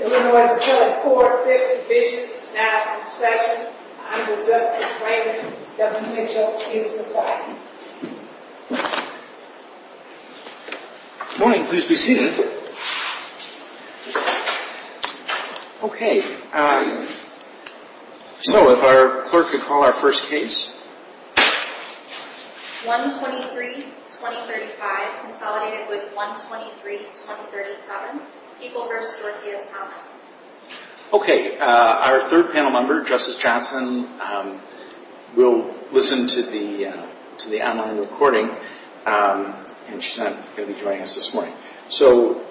Illinois Appellate Court, Fifth Division, Staff and Session. Honorable Justice Franklin W. Mitchell v. Poseidon. Good morning, please be seated. Okay, so if our clerk could call our first case. 123-2035, consolidated with 123-2037, People v. Dorothea Thomas. Okay, our third panel member, Justice Johnson, will listen to the online recording. And she's not going to be joining us this morning. So,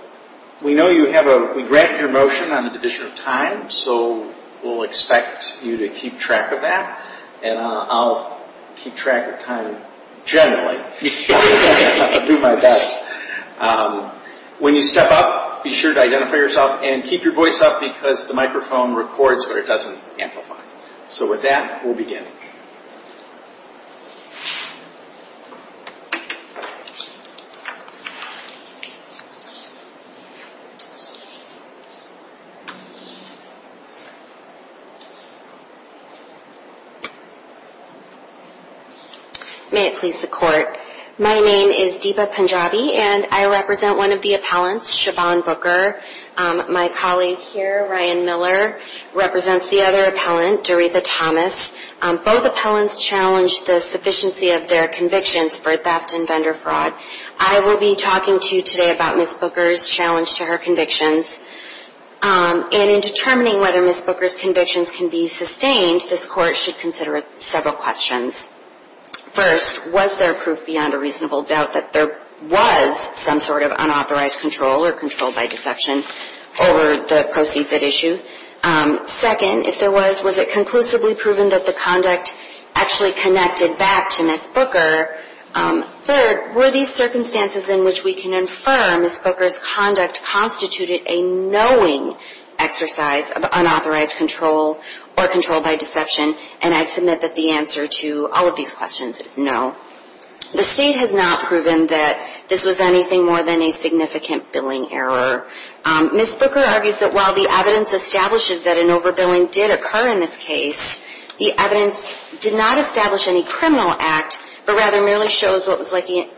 we know you have a, we granted your motion on an addition of time, so we'll expect you to keep track of that. And I'll keep track of time generally. I'll do my best. When you step up, be sure to identify yourself and keep your voice up because the microphone records but it doesn't amplify. So with that, we'll begin. May it please the Court. My name is Deepa Punjabi and I represent one of the appellants, Siobhan Booker. My colleague here, Ryan Miller, represents the other appellant, Dorothea Thomas. Both appellants challenged the sufficiency of their convictions for theft and vendor fraud. I will be talking to you today about Ms. Booker's challenge to her convictions. And in determining whether Ms. Booker's convictions can be sustained, this Court should consider several questions. First, was there proof beyond a reasonable doubt that there was some sort of unauthorized control or control by deception over the proceeds at issue? Second, if there was, was it conclusively proven that the conduct actually connected back to Ms. Booker? Third, were these circumstances in which we can infer Ms. Booker's conduct constituted a knowing exercise of unauthorized control or control by deception? And I'd submit that the answer to all of these questions is no. The State has not proven that this was anything more than a significant billing error. Ms. Booker argues that while the evidence establishes that an overbilling did occur in this case, the evidence did not establish any criminal act, but rather merely shows what was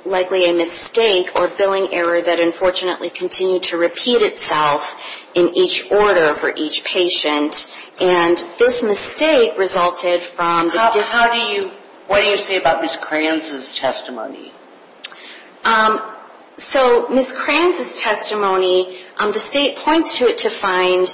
likely a mistake or billing error that unfortunately continued to repeat itself in each order for each patient. And this mistake resulted from the... How do you, what do you say about Ms. Kranz's testimony? So Ms. Kranz's testimony, the State points to it to find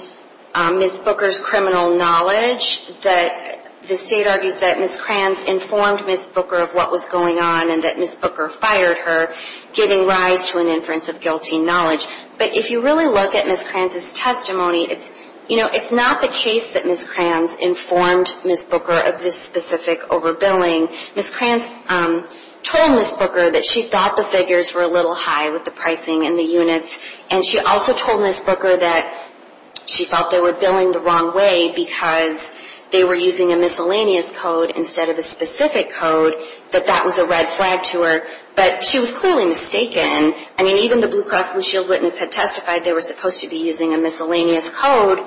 Ms. Booker's criminal knowledge. The State argues that Ms. Kranz informed Ms. Booker of what was going on and that Ms. Booker fired her, giving rise to an inference of guilty knowledge. But if you really look at Ms. Kranz's testimony, you know, it's not the case that Ms. Kranz informed Ms. Booker of this specific overbilling. Ms. Kranz told Ms. Booker that she thought the figures were a little high with the pricing and the units. And she also told Ms. Booker that she felt they were billing the wrong way because they were using a miscellaneous code instead of a specific code, that that was a red flag to her. But she was clearly mistaken. I mean, even the Blue Cross Blue Shield witness had testified they were supposed to be using a miscellaneous code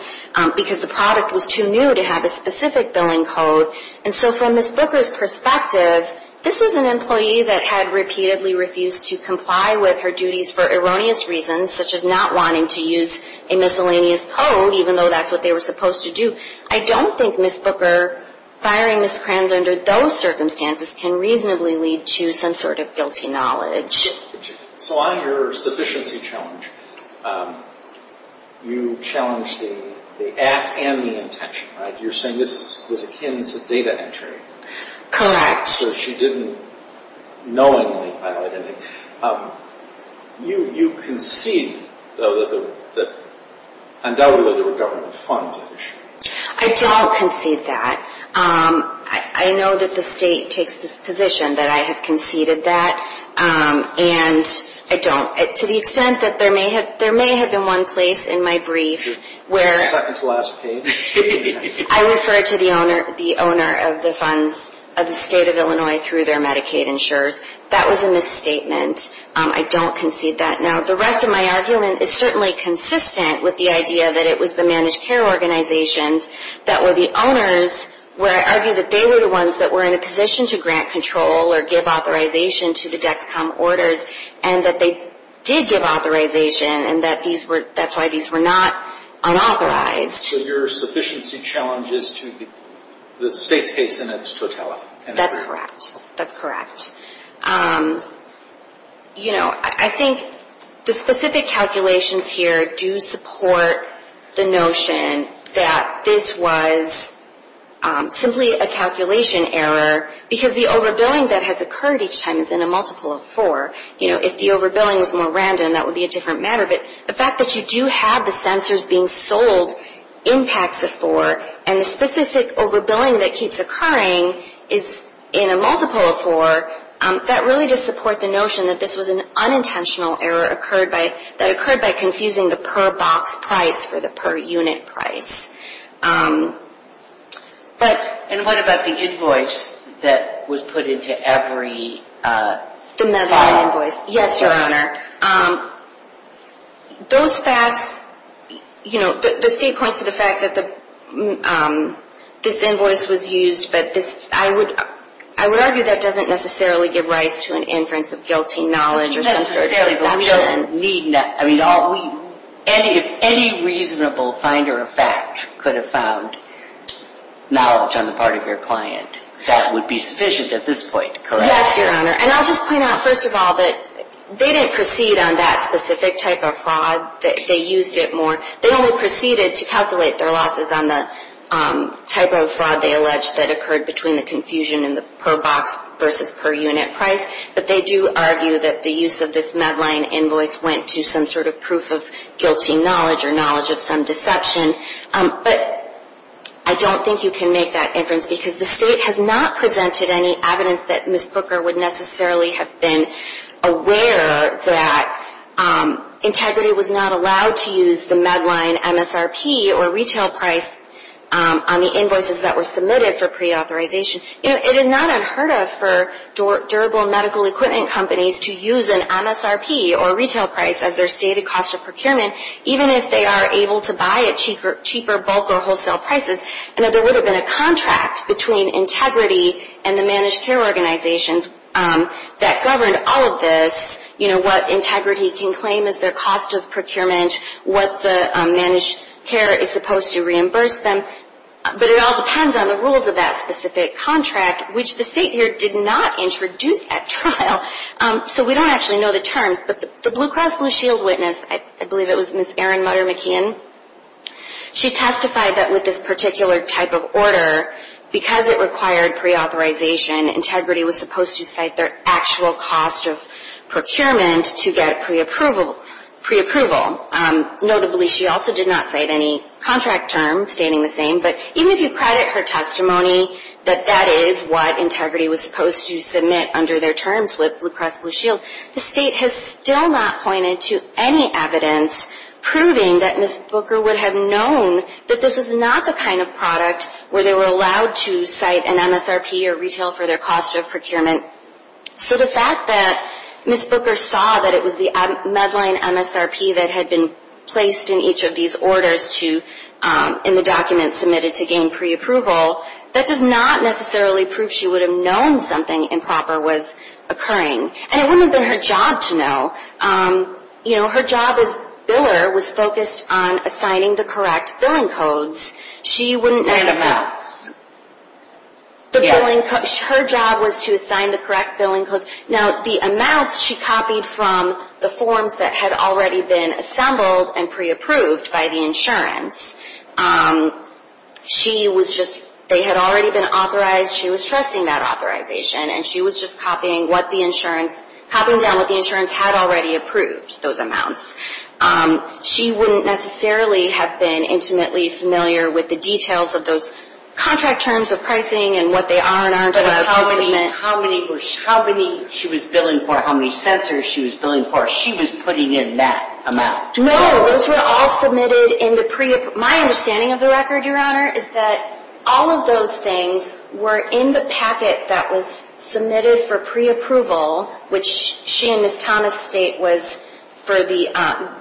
because the product was too new to have a specific billing code. And so from Ms. Booker's perspective, this was an employee that had repeatedly refused to comply with her duties for erroneous reasons, such as not wanting to use a miscellaneous code, even though that's what they were supposed to do. I don't think Ms. Booker firing Ms. Kranz under those circumstances can reasonably lead to some sort of guilty knowledge. So on your sufficiency challenge, you challenged the act and the intention, right? You're saying this was akin to data entry. So she didn't knowingly violate anything. You concede, though, that undoubtedly there were government funds at issue. I don't concede that. I know that the state takes the position that I have conceded that. And I don't. To the extent that there may have been one place in my brief where... I refer to the owner of the funds of the state of Illinois through their Medicaid insurers. That was a misstatement. I don't concede that. Now, the rest of my argument is certainly consistent with the idea that it was the managed care organizations that were the owners where I argue that they were the ones that were in a position to grant control or give authorization to the DEXCOM orders, and that they did give authorization and that's why these were not unauthorized. So your sufficiency challenge is to the state's case and its totality. That's correct. That's correct. You know, I think the specific calculations here do support the notion that this was simply a calculation error because the overbilling that has occurred each time is in a multiple of four. You know, if the overbilling was more random, that would be a different matter. But the fact that you do have the censors being sold in packs of four, and the specific overbilling that keeps occurring is in a multiple of four, that really does support the notion that this was an unintentional error that occurred by confusing the per box price for the per unit price. And what about the invoice that was put into every file? The medical invoice. Yes, Your Honor. Those facts, you know, the state points to the fact that this invoice was used, but I would argue that doesn't necessarily give rise to an inference of guilty knowledge or some sort of deception. I mean, if any reasonable finder of fact could have found knowledge on the part of your client, that would be sufficient at this point, correct? Yes, Your Honor. And I'll just point out, first of all, that they didn't proceed on that specific type of fraud. They used it more. They only proceeded to calculate their losses on the type of fraud they alleged that occurred between the confusion in the per box versus per unit price. But they do argue that the use of this Medline invoice went to some sort of proof of guilty knowledge or knowledge of some deception. But I don't think you can make that inference because the state has not presented any evidence that Ms. Booker would necessarily have been aware that Integrity was not allowed to use the Medline MSRP or retail price on the invoices that were submitted for preauthorization. You know, it is not unheard of for durable medical equipment companies to use an MSRP or retail price as their stated cost of procurement, even if they are able to buy at cheaper bulk or wholesale prices, and that there would have been a contract between Integrity and the managed care organizations that governed all of this, you know, what Integrity can claim as their cost of procurement, what the managed care is supposed to reimburse them. But it all depends on the rules of that specific contract, which the state here did not introduce at trial. So we don't actually know the terms. But the Blue Cross Blue Shield witness, I believe it was Ms. Erin Mutter McKeon, she testified that with this particular type of order, because it required preauthorization, Integrity was supposed to cite their actual cost of procurement to get preapproval. Notably, she also did not cite any contract term stating the same. But even if you credit her testimony that that is what Integrity was supposed to submit under their terms with Blue Cross Blue Shield, the state has still not pointed to any evidence proving that Ms. Booker would have known that this is not the kind of product where they were allowed to cite an MSRP or retail for their cost of procurement. So the fact that Ms. Booker saw that it was the Medline MSRP that had been placed in each of these orders to, in the document submitted to gain preapproval, that does not necessarily prove she would have known something improper was occurring. And it wouldn't have been her job to know. You know, her job as biller was focused on assigning the correct billing codes. She wouldn't necessarily. No. Her job was to assign the correct billing codes. Now, the amounts she copied from the forms that had already been assembled and preapproved by the insurance, she was just, they had already been authorized. She was trusting that authorization, and she was just copying what the insurance, copying down what the insurance had already approved, those amounts. She wouldn't necessarily have been intimately familiar with the details of those contract terms of pricing and what they are and aren't allowed to submit. But how many she was billing for, how many censors she was billing for? She was putting in that amount. No. Those were all submitted in the preapproval. My understanding of the record, Your Honor, is that all of those things were in the packet that was submitted for preapproval, which she and Ms. Thomas state was for the,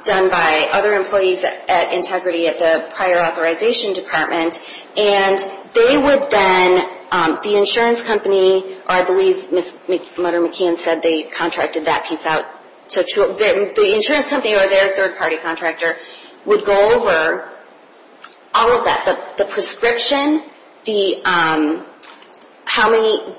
done by other employees at Integrity at the prior authorization department. And they would then, the insurance company, or I believe Ms. Mutter-McKeon said they contracted that piece out. The insurance company or their third-party contractor would go over all of that. The prescription, the, how many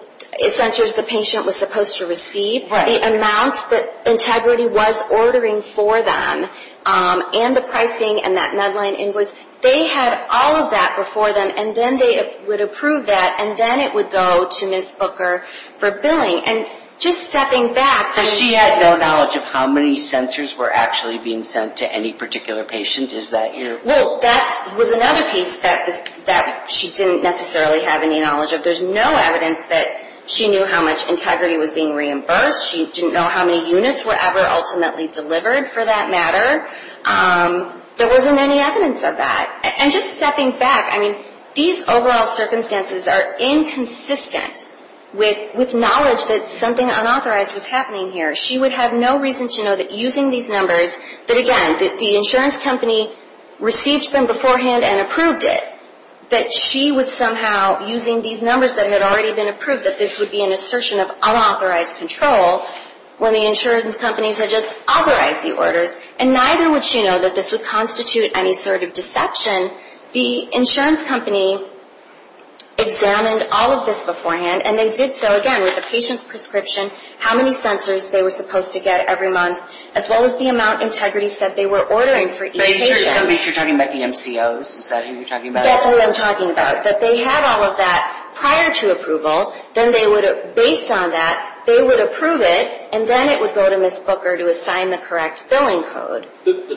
censors the patient was supposed to receive. Right. The amounts that Integrity was ordering for them, and the pricing and that MEDLINE invoice. They had all of that before them, and then they would approve that, and then it would go to Ms. Booker for billing. And just stepping back. So she had no knowledge of how many censors were actually being sent to any particular patient? Is that your? Well, that was another piece that she didn't necessarily have any knowledge of. There's no evidence that she knew how much Integrity was being reimbursed. She didn't know how many units were ever ultimately delivered, for that matter. There wasn't any evidence of that. And just stepping back. I mean, these overall circumstances are inconsistent with knowledge that something unauthorized was happening here. She would have no reason to know that using these numbers, that again, that the insurance company received them beforehand and approved it. That she would somehow, using these numbers that had already been approved, that this would be an assertion of unauthorized control. When the insurance companies had just authorized the orders. And neither would she know that this would constitute any sort of deception. The insurance company examined all of this beforehand. And they did so, again, with the patient's prescription, how many censors they were supposed to get every month. As well as the amount of Integrity that they were ordering for each patient. Are you sure you're talking about the MCOs? Is that who you're talking about? That's who I'm talking about. That they had all of that prior to approval. Then they would, based on that, they would approve it. And then it would go to Ms. Booker to assign the correct billing code. The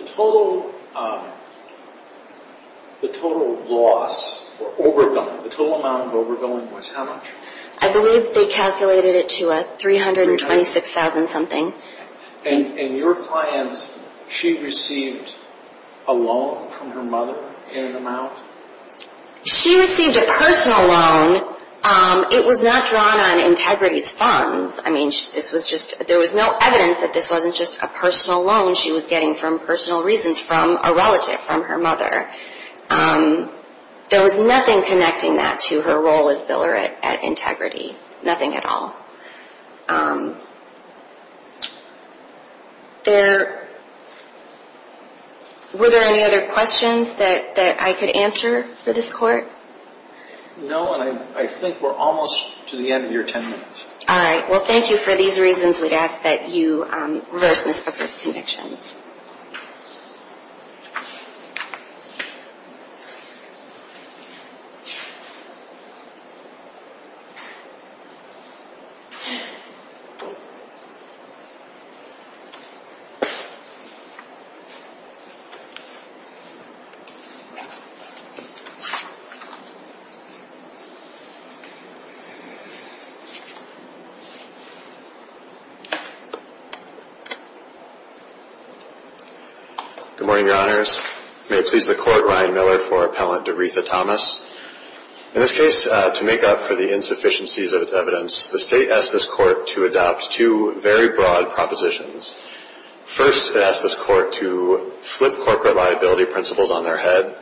total loss or overbilling, the total amount of overbilling was how much? I believe they calculated it to $326,000 something. And your client, she received a loan from her mother in an amount? She received a personal loan. It was not drawn on Integrity's funds. I mean, this was just, there was no evidence that this wasn't just a personal loan she was getting for personal reasons from a relative, from her mother. There was nothing connecting that to her role as biller at Integrity. Nothing at all. There, were there any other questions that I could answer for this court? No, and I think we're almost to the end of your ten minutes. All right, well thank you for these reasons. We'd ask that you reverse Ms. Booker's convictions. Good morning, Your Honors. May it please the Court, Ryan Miller for Appellant DeRetha Thomas. In this case, to make up for the insufficiencies of its evidence, the State asked this Court to adopt two very broad propositions. First, it asked this Court to flip corporate liability principles on their head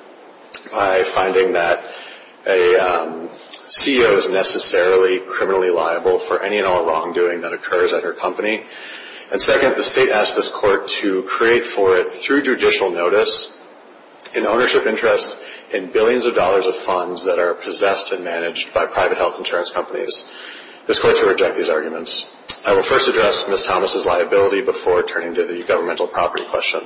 by finding that a CEO is necessarily criminally liable for any and all wrongdoing that occurs at her company. And second, the State asked this Court to create for it, through judicial notice, an ownership interest in billions of dollars of funds that are possessed and managed by private health insurance companies. This Court should reject these arguments. I will first address Ms. Thomas's liability before turning to the governmental property question.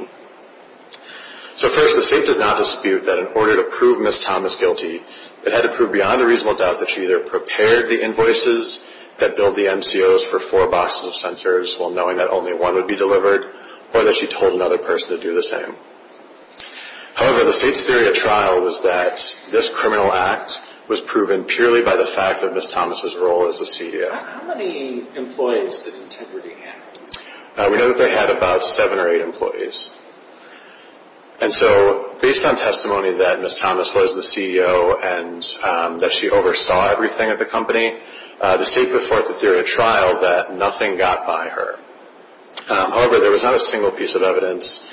So first, the State did not dispute that in order to prove Ms. Thomas guilty, it had to prove beyond a reasonable doubt that she either prepared the invoices that billed the MCOs for four boxes of sensors, while knowing that only one would be delivered, or that she told another person to do the same. However, the State's theory of trial was that this criminal act was proven purely by the fact of Ms. Thomas's role as a CEO. How many employees did Integrity have? We know that they had about seven or eight employees. And so, based on testimony that Ms. Thomas was the CEO and that she oversaw everything at the company, the State put forth the theory of trial that nothing got by her. However, there was not a single piece of evidence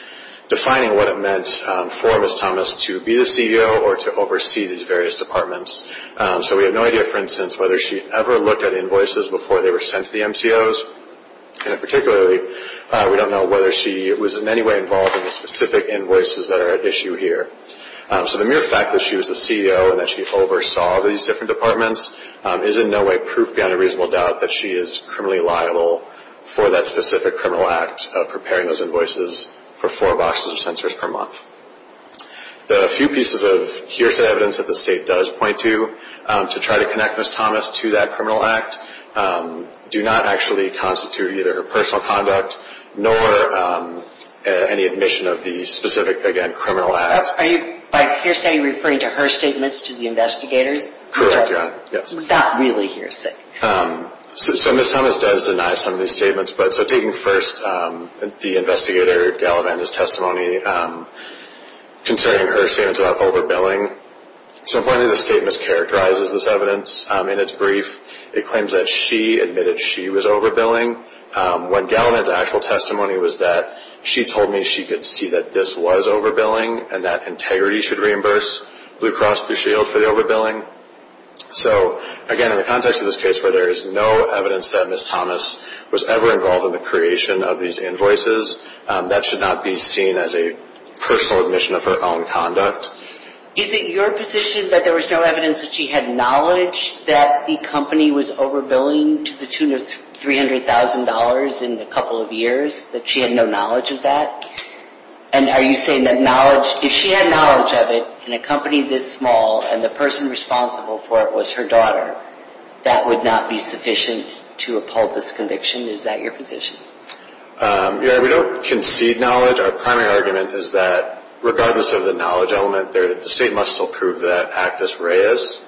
defining what it meant for Ms. Thomas to be the CEO or to oversee these various departments. So we have no idea, for instance, whether she ever looked at invoices before they were sent to the MCOs, and particularly, we don't know whether she was in any way involved in the specific invoices that are at issue here. So the mere fact that she was the CEO and that she oversaw these different departments is in no way proof beyond a reasonable doubt that she is criminally liable for that specific criminal act of preparing those invoices for four boxes of sensors per month. The few pieces of hearsay evidence that the State does point to, to try to connect Ms. Thomas to that criminal act, do not actually constitute either her personal conduct nor any admission of the specific, again, criminal act. Are you, by hearsay, referring to her statements to the investigators? Correct, yes. Not really hearsay. So Ms. Thomas does deny some of these statements. But so taking first the investigator, Gallivand's, testimony concerning her statements about overbilling, so one of the statements characterizes this evidence in its brief. It claims that she admitted she was overbilling when Gallivand's actual testimony was that she told me she could see that this was overbilling and that integrity should reimburse Blue Cross Blue Shield for the overbilling. So again, in the context of this case where there is no evidence that Ms. Thomas was ever involved in the creation of these invoices, that should not be seen as a personal admission of her own conduct. Is it your position that there was no evidence that she had knowledge that the company was overbilling to the tune of $300,000 in a couple of years, that she had no knowledge of that? And are you saying that knowledge, if she had knowledge of it in a company this small and the person responsible for it was her daughter, that would not be sufficient to uphold this conviction? Is that your position? Yeah, we don't concede knowledge. Our primary argument is that regardless of the knowledge element there, the state must still prove that Actus Reis,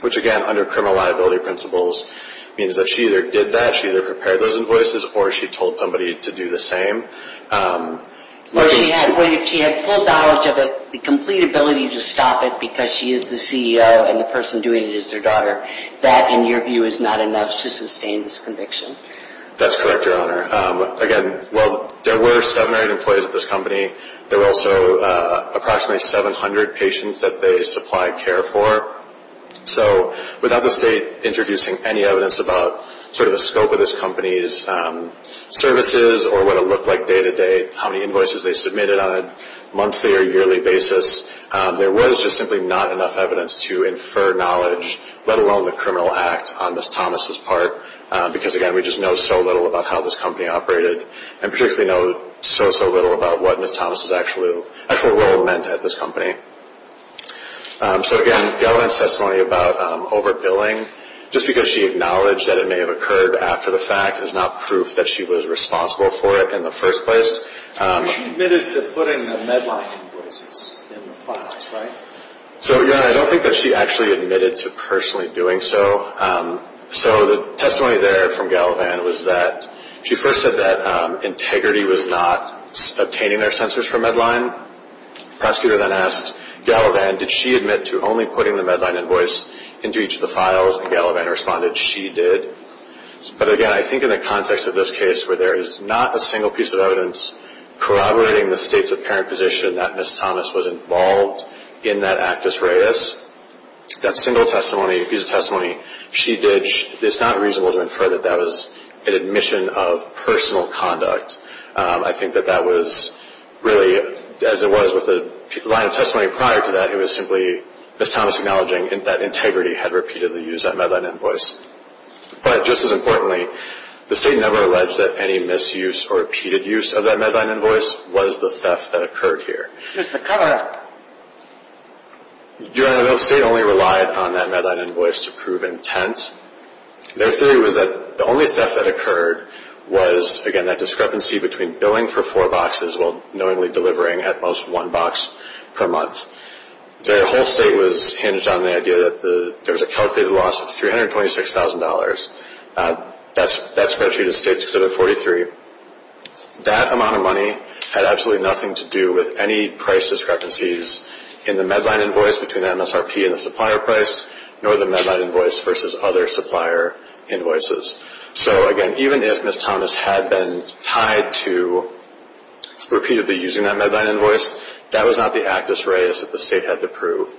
which again, under criminal liability principles, means that she either did that, she either prepared those invoices, or she told somebody to do the same. Or if she had full knowledge of it, the complete ability to stop it because she is the CEO and the person doing it is her daughter, that, in your view, is not enough to sustain this conviction? That's correct, Your Honor. Again, while there were seven or eight employees at this company, there were also approximately 700 patients that they supplied care for. So without the state introducing any evidence about sort of the scope of this company's services or what it looked like day-to-day, how many invoices they submitted on a monthly or yearly basis, there was just simply not enough evidence to infer knowledge, let alone the criminal act, on Ms. Thomas' part because, again, we just know so little about how this company operated and particularly know so, so little about what Ms. Thomas' actual role meant at this company. So, again, Galavan's testimony about overbilling, just because she acknowledged that it may have occurred after the fact is not proof that she was responsible for it in the first place. She admitted to putting the Medline invoices in the files, right? So, Your Honor, I don't think that she actually admitted to personally doing so. So the testimony there from Galavan was that she first said that Integrity was not obtaining their censors for Medline. The prosecutor then asked Galavan, did she admit to only putting the Medline invoice into each of the files? And Galavan responded, she did. But, again, I think in the context of this case where there is not a single piece of evidence corroborating the state's apparent position that Ms. Thomas was involved in that actus reus, that single piece of testimony she did, it's not reasonable to infer that that was an admission of personal conduct. I think that that was really, as it was with the line of testimony prior to that, it was simply Ms. Thomas acknowledging that Integrity had repeatedly used that Medline invoice. But just as importantly, the state never alleged that any misuse or repeated use of that Medline invoice was the theft that occurred here. Just to cover up. Your Honor, the state only relied on that Medline invoice to prove intent. Their theory was that the only theft that occurred was, again, that discrepancy between billing for four boxes while knowingly delivering at most one box per month. Their whole state was hinged on the idea that there was a calculated loss of $326,000. That's where it treated the state because it had 43. That amount of money had absolutely nothing to do with any price discrepancies in the Medline invoice between the MSRP and the supplier price, nor the Medline invoice versus other supplier invoices. So, again, even if Ms. Thomas had been tied to repeatedly using that Medline invoice, that was not the actus reus that the state had to prove.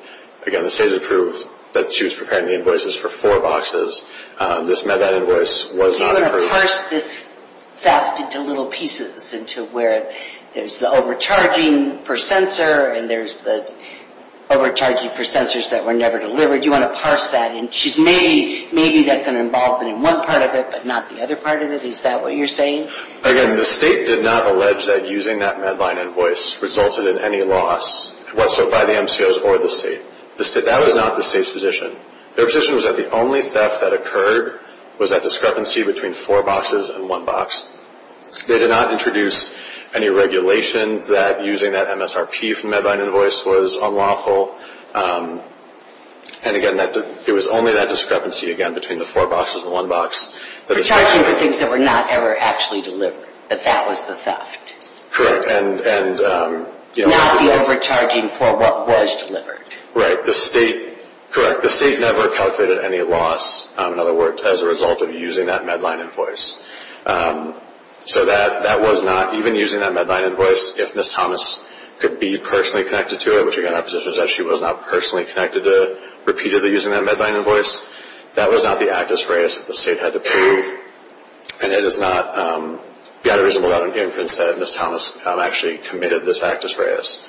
Again, the state had proved that she was preparing the invoices for four boxes. This Medline invoice was not approved. You parse this theft into little pieces, into where there's the overcharging per censor and there's the overcharging per censors that were never delivered. You want to parse that. Maybe that's an involvement in one part of it but not the other part of it. Is that what you're saying? Again, the state did not allege that using that Medline invoice resulted in any loss whatsoever by the MCOs or the state. That was not the state's position. Their position was that the only theft that occurred was that discrepancy between four boxes and one box. They did not introduce any regulations that using that MSRP from Medline invoice was unlawful. And, again, it was only that discrepancy, again, between the four boxes and one box. Overcharging for things that were not ever actually delivered, that that was the theft. Correct. Not the overcharging for what was delivered. Right. Correct. The state never calculated any loss, in other words, as a result of using that Medline invoice. So that was not, even using that Medline invoice, if Ms. Thomas could be personally connected to it, which, again, our position is that she was not personally connected to repeatedly using that Medline invoice, that was not the actus reus that the state had to prove. And it is not, beyond a reasonable doubt, an inference that Ms. Thomas actually committed this actus reus.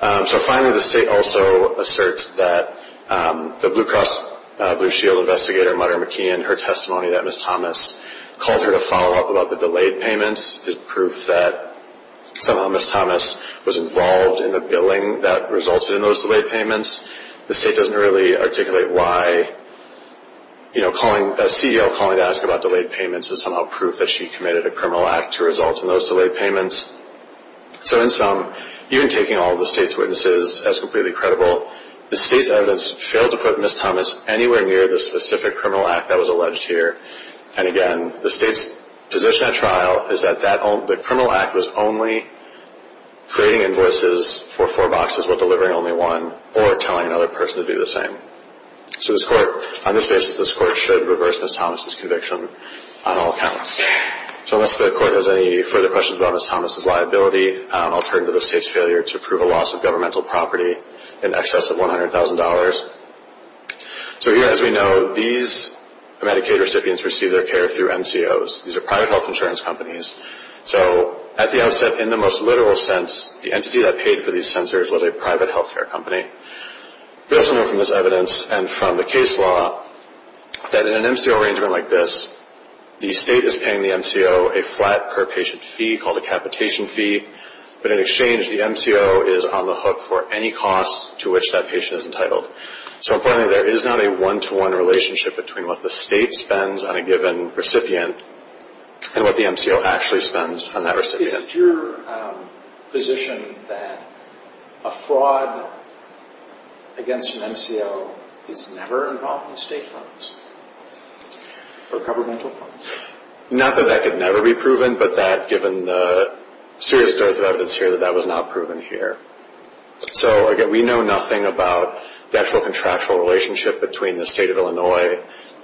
So, finally, the state also asserts that the Blue Cross Blue Shield investigator, Mudder McKeon, her testimony that Ms. Thomas called her to follow up about the delayed payments, is proof that somehow Ms. Thomas was involved in the billing that resulted in those delayed payments. The state doesn't really articulate why, you know, calling, a CEO calling to ask about delayed payments is somehow proof that she committed a criminal act to result in those delayed payments. So, in sum, even taking all of the state's witnesses as completely credible, the state's evidence failed to put Ms. Thomas anywhere near the specific criminal act that was alleged here. And, again, the state's position at trial is that the criminal act was only creating invoices for four boxes while delivering only one, or telling another person to do the same. So this court, on this basis, this court should reverse Ms. Thomas' conviction on all counts. So, unless the court has any further questions about Ms. Thomas' liability, I'll turn to the state's failure to prove a loss of governmental property in excess of $100,000. So, here, as we know, these Medicaid recipients receive their care through MCOs. These are private health insurance companies. So, at the outset, in the most literal sense, the entity that paid for these censors was a private health care company. We also know from this evidence and from the case law that in an MCO arrangement like this, the state is paying the MCO a flat per patient fee called a capitation fee. But, in exchange, the MCO is on the hook for any cost to which that patient is entitled. So, importantly, there is not a one-to-one relationship between what the state spends on a given recipient and what the MCO actually spends on that recipient. Is it your position that a fraud against an MCO is never involved in state funds or governmental funds? Not that that could never be proven, but given the serious dose of evidence here, that was not proven here. So, again, we know nothing about the actual contractual relationship between the state of Illinois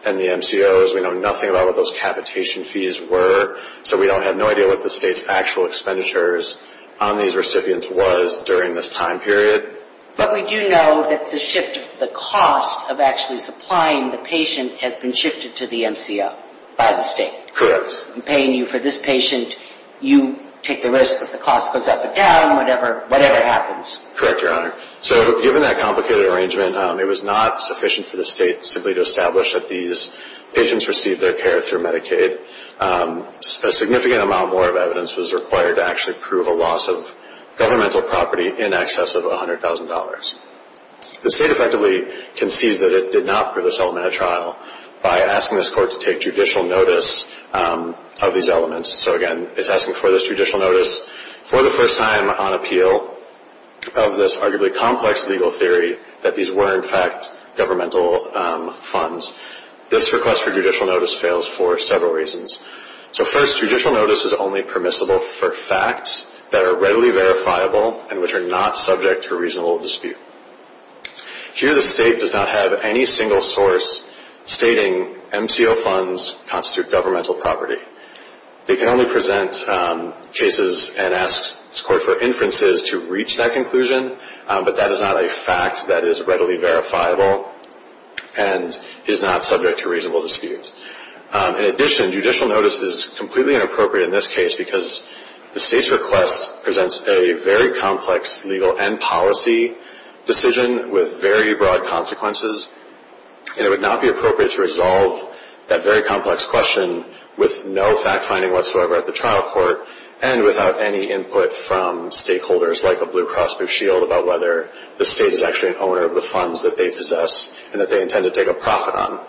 and the MCOs. We know nothing about what those capitation fees were. So, we have no idea what the state's actual expenditures on these recipients was during this time period. But we do know that the shift of the cost of actually supplying the patient has been shifted to the MCO by the state. Correct. I'm paying you for this patient. You take the risk that the cost goes up or down, whatever happens. Correct, Your Honor. So, given that complicated arrangement, it was not sufficient for the state simply to establish that these patients received their care through Medicaid. A significant amount more of evidence was required to actually prove a loss of governmental property in excess of $100,000. The state effectively concedes that it did not prove this element at trial by asking this court to take judicial notice of these elements. So, again, it's asking for this judicial notice for the first time on appeal of this arguably complex legal theory that these were, in fact, governmental funds. This request for judicial notice fails for several reasons. So, first, judicial notice is only permissible for facts that are readily verifiable and which are not subject to reasonable dispute. Here, the state does not have any single source stating MCO funds constitute governmental property. They can only present cases and ask this court for inferences to reach that conclusion, but that is not a fact that is readily verifiable. And is not subject to reasonable dispute. In addition, judicial notice is completely inappropriate in this case because the state's request presents a very complex legal and policy decision with very broad consequences. And it would not be appropriate to resolve that very complex question with no fact-finding whatsoever at the trial court and without any input from stakeholders like a Blue Cross Blue Shield about whether the state is actually an owner of the funds that they possess and that they intend to take a profit on.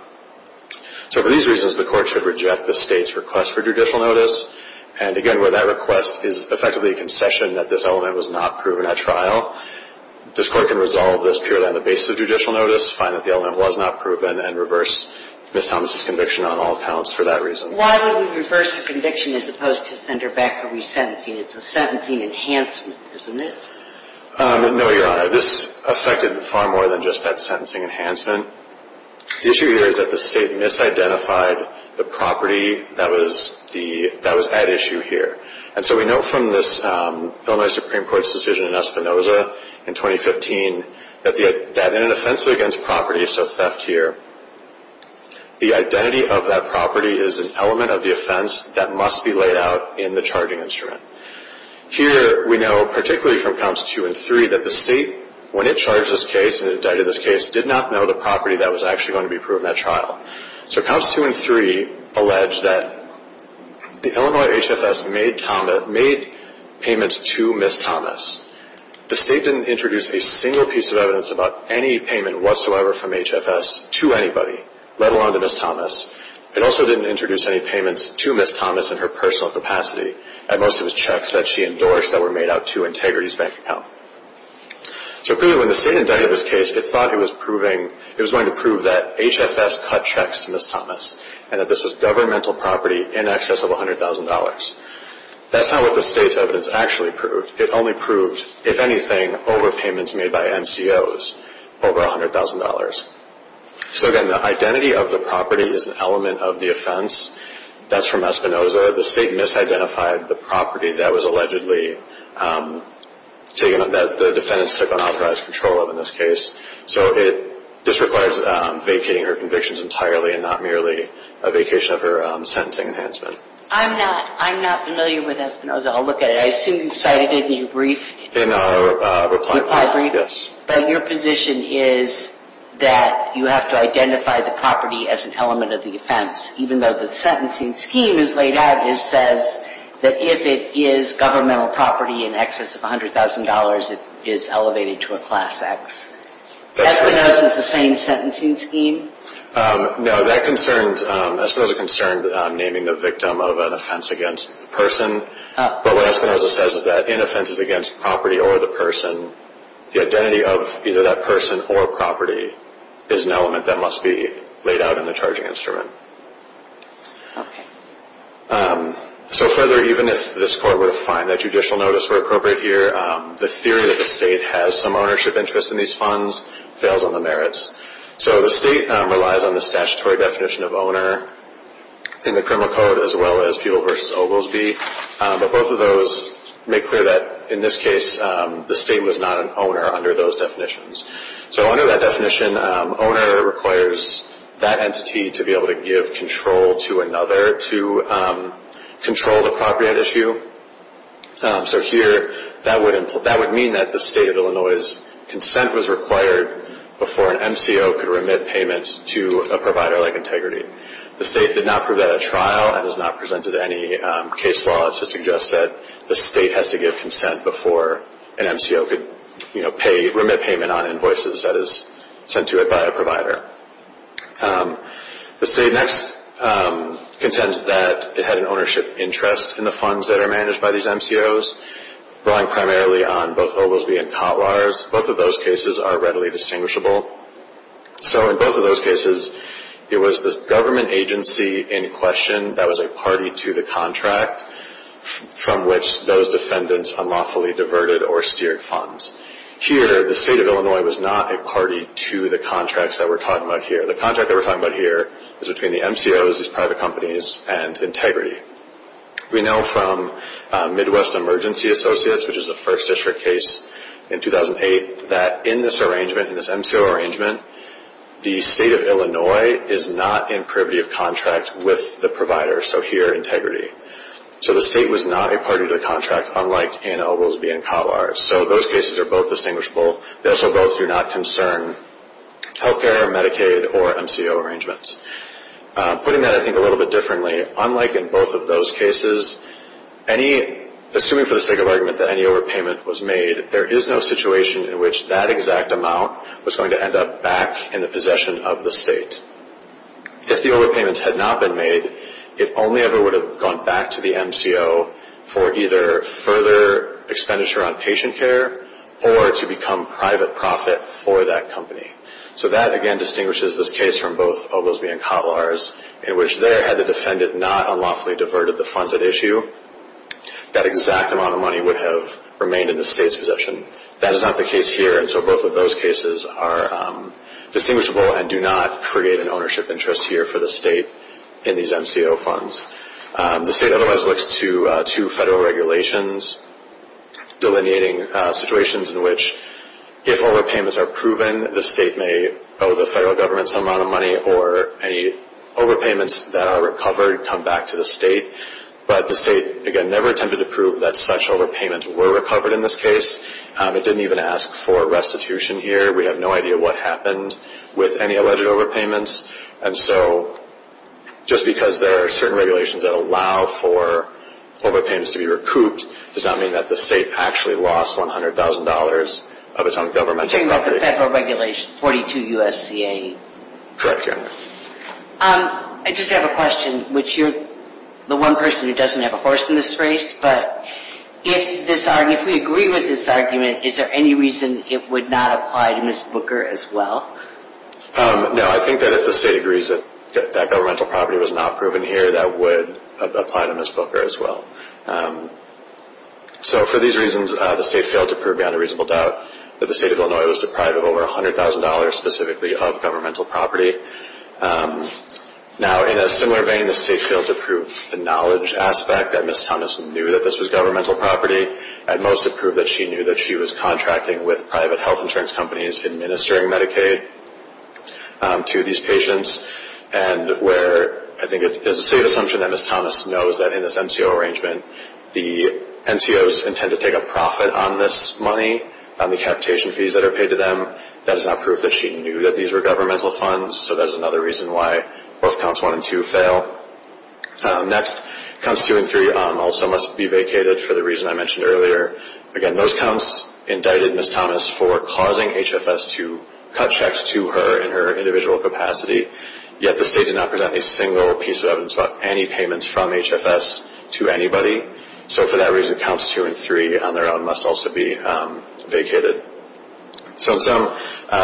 So, for these reasons, the court should reject the state's request for judicial notice. And, again, where that request is effectively a concession that this element was not proven at trial, this court can resolve this purely on the basis of judicial notice, find that the element was not proven, and reverse Ms. Thomas' conviction on all accounts for that reason. But why would we reverse a conviction as opposed to send her back for resentencing? It's a sentencing enhancement, isn't it? No, Your Honor. This affected far more than just that sentencing enhancement. The issue here is that the state misidentified the property that was at issue here. And so we know from this Illinois Supreme Court's decision in Espinoza in 2015 that in an offense against property, so theft here, the identity of that property is an element of the offense that must be laid out in the charging instrument. Here we know, particularly from Counts 2 and 3, that the state, when it charged this case and indicted this case, did not know the property that was actually going to be proven at trial. So Counts 2 and 3 allege that the Illinois HFS made payments to Ms. Thomas. The state didn't introduce a single piece of evidence about any payment whatsoever from HFS to anybody, let alone to Ms. Thomas. It also didn't introduce any payments to Ms. Thomas in her personal capacity, at most it was checks that she endorsed that were made out to Integrity's bank account. So clearly when the state indicted this case, it thought it was going to prove that HFS cut checks to Ms. Thomas and that this was governmental property in excess of $100,000. That's not what the state's evidence actually proved. It only proved, if anything, overpayments made by MCOs over $100,000. So again, the identity of the property is an element of the offense. That's from Espinoza. The state misidentified the property that the defendants took unauthorized control of in this case. So this requires vacating her convictions entirely and not merely a vacation of her sentencing enhancement. I'm not familiar with Espinoza. I'll look at it. I assume you've cited it in your brief. In our reply brief, yes. But your position is that you have to identify the property as an element of the offense, even though the sentencing scheme as laid out says that if it is governmental property in excess of $100,000, it is elevated to a Class X. Espinoza's the same sentencing scheme? No. Espinoza concerned naming the victim of an offense against the person. But what Espinoza says is that in offenses against property or the person, the identity of either that person or property is an element that must be laid out in the charging instrument. Okay. So further, even if this Court were to find that judicial notice were appropriate here, the theory that the state has some ownership interest in these funds fails on the merits. So the state relies on the statutory definition of owner in the criminal code, as well as Fuel v. Oglesby. But both of those make clear that, in this case, the state was not an owner under those definitions. So under that definition, owner requires that entity to be able to give control to another to control the property at issue. So here, that would mean that the state of Illinois' consent was required before an MCO could remit payment to a provider like Integrity. The state did not prove that at trial and has not presented any case law to suggest that the state has to give consent before an MCO could remit payment on invoices that is sent to it by a provider. The state next contends that it had an ownership interest in the funds that are managed by these MCOs, relying primarily on both Oglesby and Kotlars. Both of those cases are readily distinguishable. So in both of those cases, it was the government agency in question that was a party to the contract from which those defendants unlawfully diverted or steered funds. Here, the state of Illinois was not a party to the contracts that we're talking about here. The contract that we're talking about here is between the MCOs, these private companies, and Integrity. We know from Midwest Emergency Associates, which is a First District case in 2008, that in this arrangement, in this MCO arrangement, the state of Illinois is not in privity of contract with the provider, so here, Integrity. So the state was not a party to the contract, unlike in Oglesby and Kotlars. So those cases are both distinguishable. They also both do not concern health care, Medicaid, or MCO arrangements. Putting that, I think, a little bit differently, unlike in both of those cases, assuming for the sake of argument that any overpayment was made, there is no situation in which that exact amount was going to end up back in the possession of the state. If the overpayments had not been made, it only ever would have gone back to the MCO for either further expenditure on patient care or to become private profit for that company. So that, again, distinguishes this case from both Oglesby and Kotlars, in which there, had the defendant not unlawfully diverted the funds at issue, that exact amount of money would have remained in the state's possession. That is not the case here, and so both of those cases are distinguishable and do not create an ownership interest here for the state in these MCO funds. The state otherwise looks to federal regulations delineating situations in which, if overpayments are proven, the state may owe the federal government some amount of money or any overpayments that are recovered come back to the state. But the state, again, never attempted to prove that such overpayments were recovered in this case. It didn't even ask for restitution here. We have no idea what happened with any alleged overpayments. And so just because there are certain regulations that allow for overpayments to be recouped, does not mean that the state actually lost $100,000 of its own governmental property. You're talking about the federal regulation, 42 U.S.C.A.? Correct, yes. I just have a question, which you're the one person who doesn't have a horse in this race, but if we agree with this argument, is there any reason it would not apply to Ms. Booker as well? No, I think that if the state agrees that governmental property was not proven here, that would apply to Ms. Booker as well. So for these reasons, the state failed to prove beyond a reasonable doubt that the state of Illinois was deprived of over $100,000 specifically of governmental property. Now, in a similar vein, the state failed to prove the knowledge aspect, that Ms. Thomas knew that this was governmental property. At most, it proved that she knew that she was contracting with private health insurance companies administering Medicaid to these patients, and where I think it is a safe assumption that Ms. Thomas knows that in this NCO arrangement, the NCOs intend to take a profit on this money, on the capitation fees that are paid to them. That is not proof that she knew that these were governmental funds, so that is another reason why both counts 1 and 2 fail. Next, counts 2 and 3 also must be vacated for the reason I mentioned earlier. Again, those counts indicted Ms. Thomas for causing HFS to cut checks to her in her individual capacity, yet the state did not present a single piece of evidence about any payments from HFS to anybody. So for that reason, counts 2 and 3 on their own must also be vacated. So in sum,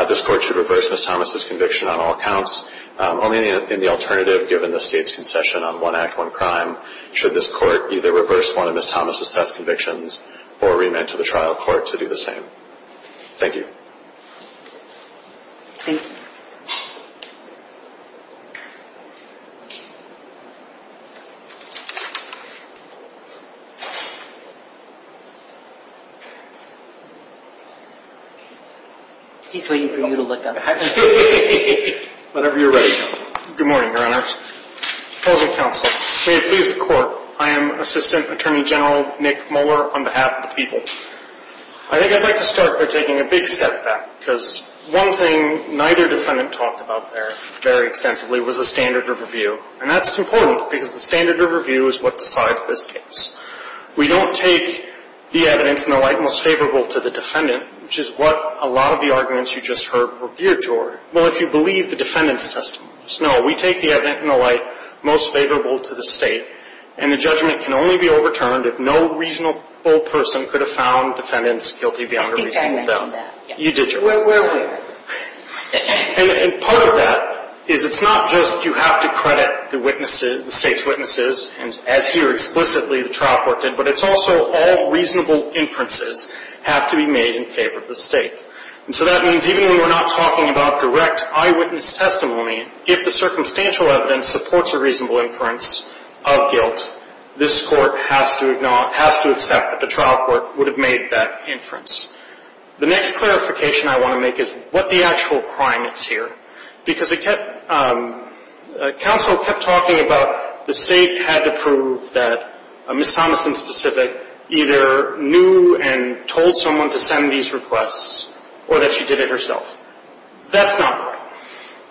this Court should reverse Ms. Thomas' conviction on all counts, only in the alternative given the state's concession on one act, one crime, should this Court either reverse one of Ms. Thomas' death convictions or remand to the trial court to do the same. Thank you. Thank you. He's waiting for you to look up. Whenever you're ready, Counsel. Good morning, Your Honor. Proposal Counsel, may it please the Court, I am Assistant Attorney General Nick Moeller on behalf of the people. I think I'd like to start by taking a big step back, because one thing neither defendant talked about there very extensively was the standard of review, and that's important because the standard of review is what decides this case. We don't take the evidence in the light most favorable to the defendant, which is what a lot of the arguments you just heard were geared toward. Well, if you believe the defendant's testimony. No, we take the evidence in the light most favorable to the state, and the judgment can only be overturned if no reasonable person could have found defendants guilty beyond a reasonable doubt. I think I mentioned that. You did, Your Honor. Where were we? And part of that is it's not just you have to credit the witnesses, the state's witnesses, and as here explicitly the trial court did, but it's also all reasonable inferences have to be made in favor of the state. And so that means even when we're not talking about direct eyewitness testimony, if the circumstantial evidence supports a reasonable inference of guilt, this Court has to accept that the trial court would have made that inference. The next clarification I want to make is what the actual crime is here, because counsel kept talking about the state had to prove that Ms. Thomason specific either knew and told someone to send these requests or that she did it herself. That's not right.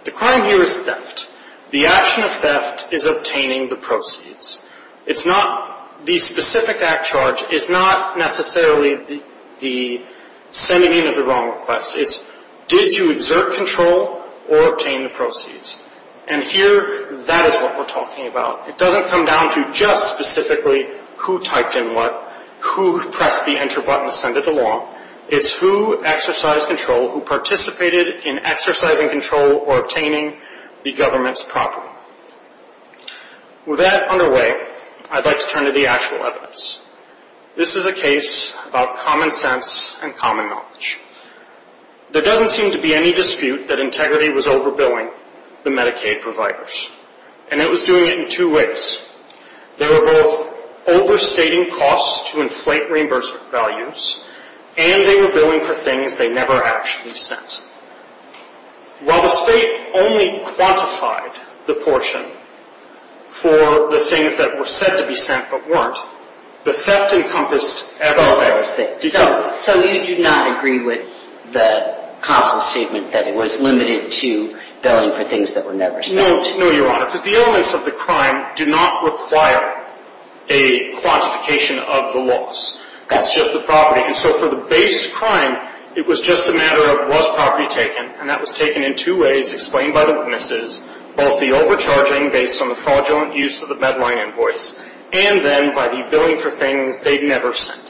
The crime here is theft. The action of theft is obtaining the proceeds. It's not the specific act charge is not necessarily the sending in of the wrong request. It's did you exert control or obtain the proceeds. And here that is what we're talking about. It doesn't come down to just specifically who typed in what, who pressed the enter button to send it along. It's who exercised control, who participated in exercising control or obtaining the government's property. With that underway, I'd like to turn to the actual evidence. This is a case about common sense and common knowledge. There doesn't seem to be any dispute that Integrity was overbilling the Medicaid providers, and it was doing it in two ways. They were both overstating costs to inflate reimbursement values, and they were billing for things they never actually sent. While the state only quantified the portion for the things that were said to be sent but weren't, the theft encompassed everything. So you do not agree with the counsel's statement that it was limited to billing for things that were never sent? No, Your Honor, because the elements of the crime do not require a quantification of the loss. It's just the property. And so for the base crime, it was just a matter of was property taken, and that was taken in two ways explained by the witnesses, both the overcharging based on the fraudulent use of the bedline invoice and then by the billing for things they'd never sent.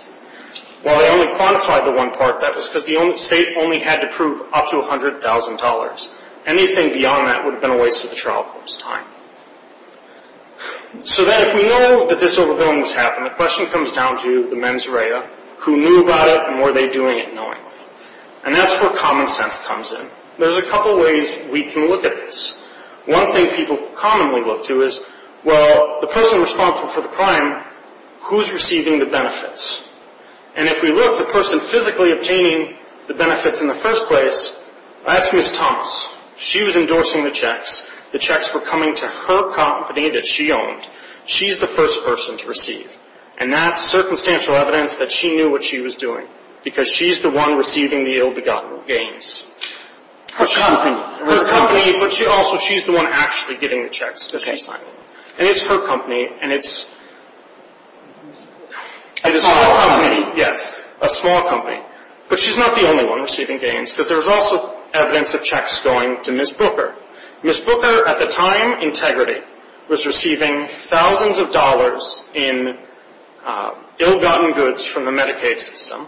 While they only quantified the one part, that was because the state only had to prove up to $100,000. Anything beyond that would have been a waste of the trial court's time. So then if we know that this overbilling has happened, the question comes down to the mens rea, who knew about it and were they doing it knowingly? And that's where common sense comes in. There's a couple ways we can look at this. One thing people commonly look to is, well, the person responsible for the crime, who's receiving the benefits? And if we look, the person physically obtaining the benefits in the first place, that's Ms. Thomas. She was endorsing the checks. The checks were coming to her company that she owned. She's the first person to receive. And that's circumstantial evidence that she knew what she was doing because she's the one receiving the ill-begotten gains. Her company. Her company, but also she's the one actually getting the checks that she's signing. And it's her company and it's a small company. Yes, a small company. But she's not the only one receiving gains because there's also evidence of checks going to Ms. Booker. Ms. Booker, at the time, integrity, was receiving thousands of dollars in ill-gotten goods from the Medicaid system.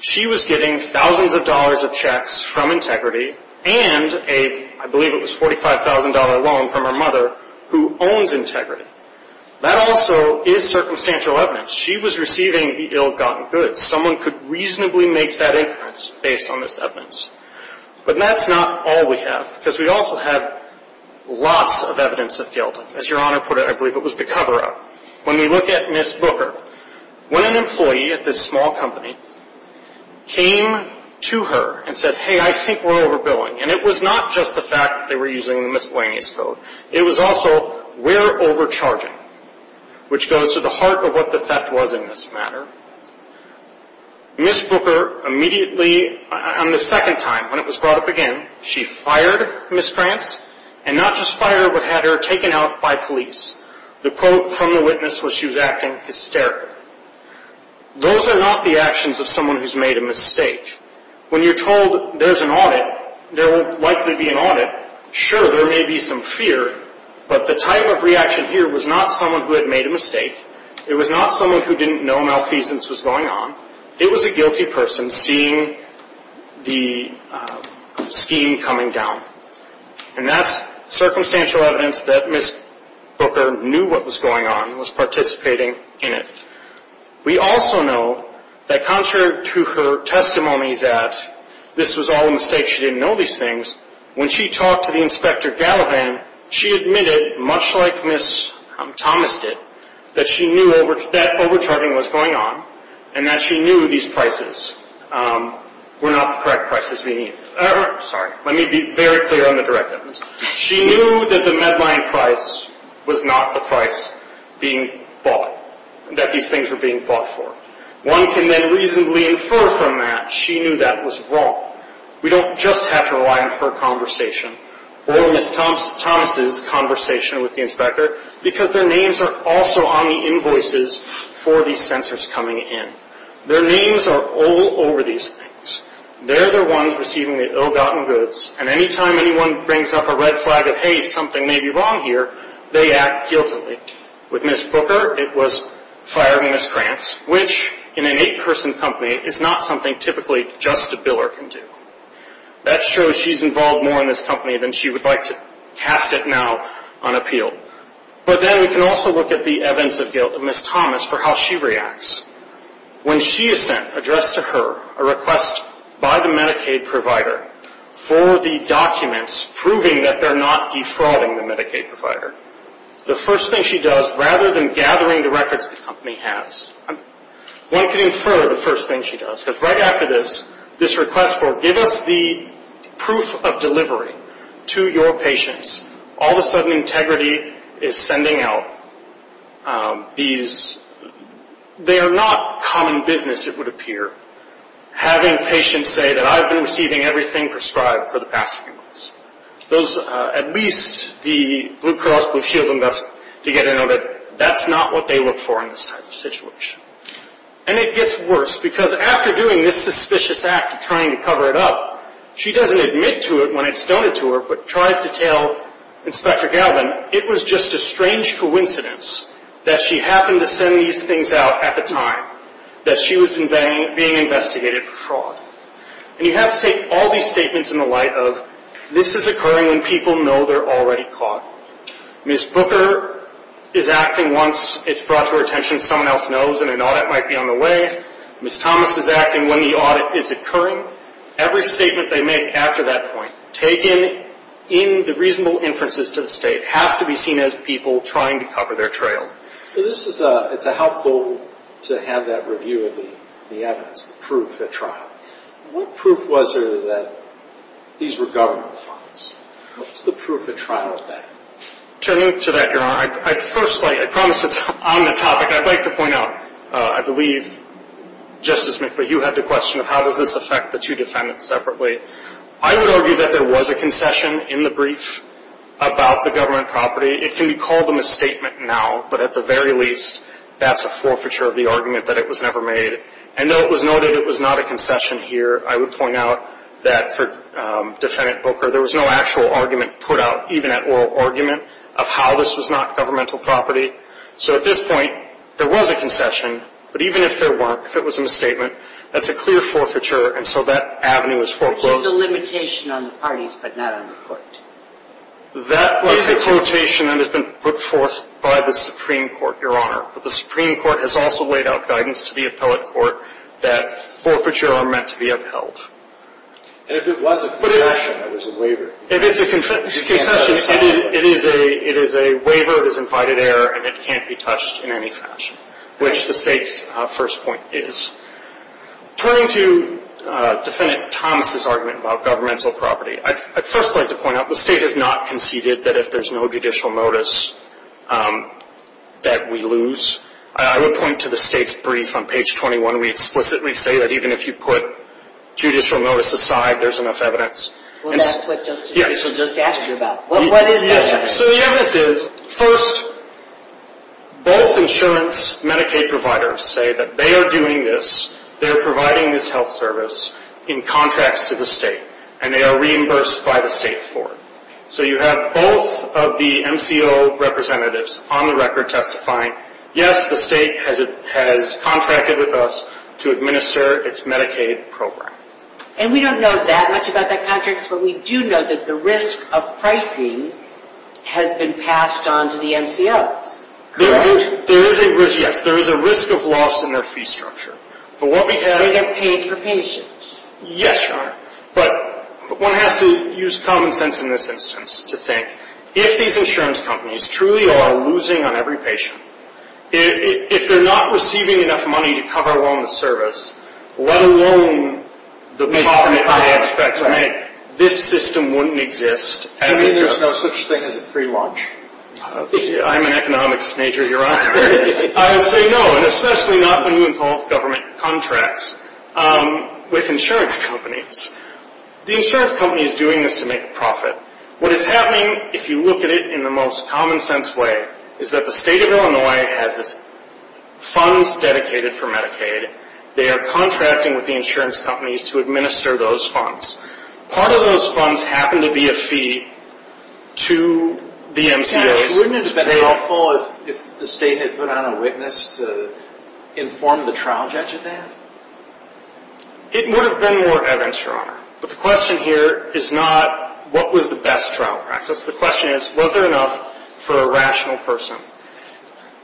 She was getting thousands of dollars of checks from integrity and a, I believe it was $45,000 loan from her mother who owns integrity. That also is circumstantial evidence. She was receiving the ill-gotten goods. Someone could reasonably make that inference based on this evidence. But that's not all we have because we also have lots of evidence of guilt. As Your Honor put it, I believe it was the cover-up. When we look at Ms. Booker, when an employee at this small company came to her and said, hey, I think we're overbilling, and it was not just the fact that they were using the miscellaneous code. It was also, we're overcharging, which goes to the heart of what the theft was in this matter. Ms. Booker immediately, on the second time when it was brought up again, she fired Ms. Prance and not just fired her but had her taken out by police. The quote from the witness was she was acting hysterical. Those are not the actions of someone who's made a mistake. When you're told there's an audit, there will likely be an audit. Sure, there may be some fear, but the type of reaction here was not someone who had made a mistake. It was not someone who didn't know malfeasance was going on. It was a guilty person seeing the scheme coming down. And that's circumstantial evidence that Ms. Booker knew what was going on and was participating in it. We also know that contrary to her testimony that this was all a mistake, she didn't know these things, when she talked to the Inspector Gallivan, she admitted, much like Ms. Thomas did, that she knew that overcharging was going on and that she knew these prices were not the correct prices. Let me be very clear on the direct evidence. She knew that the Medline price was not the price being bought, that these things were being bought for. One can then reasonably infer from that she knew that was wrong. We don't just have to rely on her conversation or Ms. Thomas' conversation with the Inspector because their names are also on the invoices for these censors coming in. Their names are all over these things. They're the ones receiving the ill-gotten goods, and any time anyone brings up a red flag of, hey, something may be wrong here, they act guiltily. With Ms. Booker, it was fired on Ms. Krantz, which, in an eight-person company, is not something typically just a biller can do. That shows she's involved more in this company than she would like to cast it now on appeal. But then we can also look at the evidence of guilt of Ms. Thomas for how she reacts. When she is sent, addressed to her, a request by the Medicaid provider for the documents proving that they're not defrauding the Medicaid provider, the first thing she does, rather than gathering the records the company has, one can infer the first thing she does. Because right after this, this request for, give us the proof of delivery to your patients, all of a sudden Integrity is sending out these. They are not common business, it would appear, having patients say that I've been receiving everything prescribed for the past few months. At least the Blue Cross Blue Shield to get to know that that's not what they look for in this type of situation. And it gets worse, because after doing this suspicious act of trying to cover it up, she doesn't admit to it when it's done to her, but tries to tell Inspector Galvin it was just a strange coincidence that she happened to send these things out at the time that she was being investigated for fraud. And you have to take all these statements in the light of, this is occurring when people know they're already caught. Ms. Booker is acting once it's brought to her attention someone else knows and an audit might be on the way. Ms. Thomas is acting when the audit is occurring. Every statement they make after that point, taken in the reasonable inferences to the state, has to be seen as people trying to cover their trail. It's helpful to have that review of the evidence, the proof at trial. What proof was there that these were government funds? What's the proof at trial of that? Turning to that, Your Honor, I'd first like, I promise it's on the topic. I'd like to point out, I believe, Justice McVeigh, you had the question of how does this affect the two defendants separately. I would argue that there was a concession in the brief about the government property. It can be called a misstatement now, but at the very least, that's a forfeiture of the argument that it was never made. And though it was noted it was not a concession here, I would point out that for Defendant Booker, there was no actual argument put out, even at oral argument, of how this was not governmental property. So at this point, there was a concession, but even if there weren't, if it was a misstatement, that's a clear forfeiture, and so that avenue is foreclosed. Which is a limitation on the parties, but not on the court. That is a quotation that has been put forth by the Supreme Court, Your Honor, but the Supreme Court has also laid out guidance to the appellate court that forfeiture are meant to be upheld. And if it was a concession, it was a waiver. If it's a concession, it is a waiver, it is invited error, and it can't be touched in any fashion, which the State's first point is. Turning to Defendant Thomas' argument about governmental property, I'd first like to point out the State has not conceded that if there's no judicial notice that we lose. I would point to the State's brief on page 21. We explicitly say that even if you put judicial notice aside, there's enough evidence. Well, that's what Justice Ginsburg just asked you about. What is that evidence? So the evidence is, first, both insurance Medicaid providers say that they are doing this, they are providing this health service in contracts to the State, and they are reimbursed by the State for it. So you have both of the MCO representatives on the record testifying, yes, the State has contracted with us to administer its Medicaid program. And we don't know that much about that contract, but we do know that the risk of pricing has been passed on to the MCOs. Correct? There is a risk, yes. There is a risk of loss in their fee structure. But what we have... They're paid for patients. Yes, Your Honor. But one has to use common sense in this instance to think, if these insurance companies truly are losing on every patient, if they're not receiving enough money to cover loan and service, let alone the profit they expect to make, this system wouldn't exist. You mean there's no such thing as a free lunch? I'm an economics major, Your Honor. I would say no, and especially not when you involve government contracts. With insurance companies. The insurance company is doing this to make a profit. What is happening, if you look at it in the most common sense way, is that the State of Illinois has its funds dedicated for Medicaid. They are contracting with the insurance companies to administer those funds. Part of those funds happen to be a fee to the MCOs. Wouldn't it have been helpful if the State had put on a witness to inform the trial judge of that? It would have been more evidence, Your Honor. But the question here is not, what was the best trial practice? The question is, was there enough for a rational person?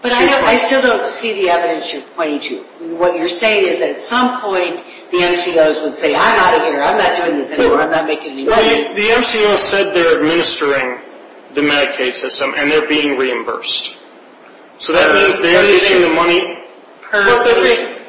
But I still don't see the evidence you're pointing to. What you're saying is, at some point, the MCOs would say, I'm out of here, I'm not doing this anymore, I'm not making any money. The MCOs said they're administering the Medicaid system, and they're being reimbursed. So that means they're getting the money.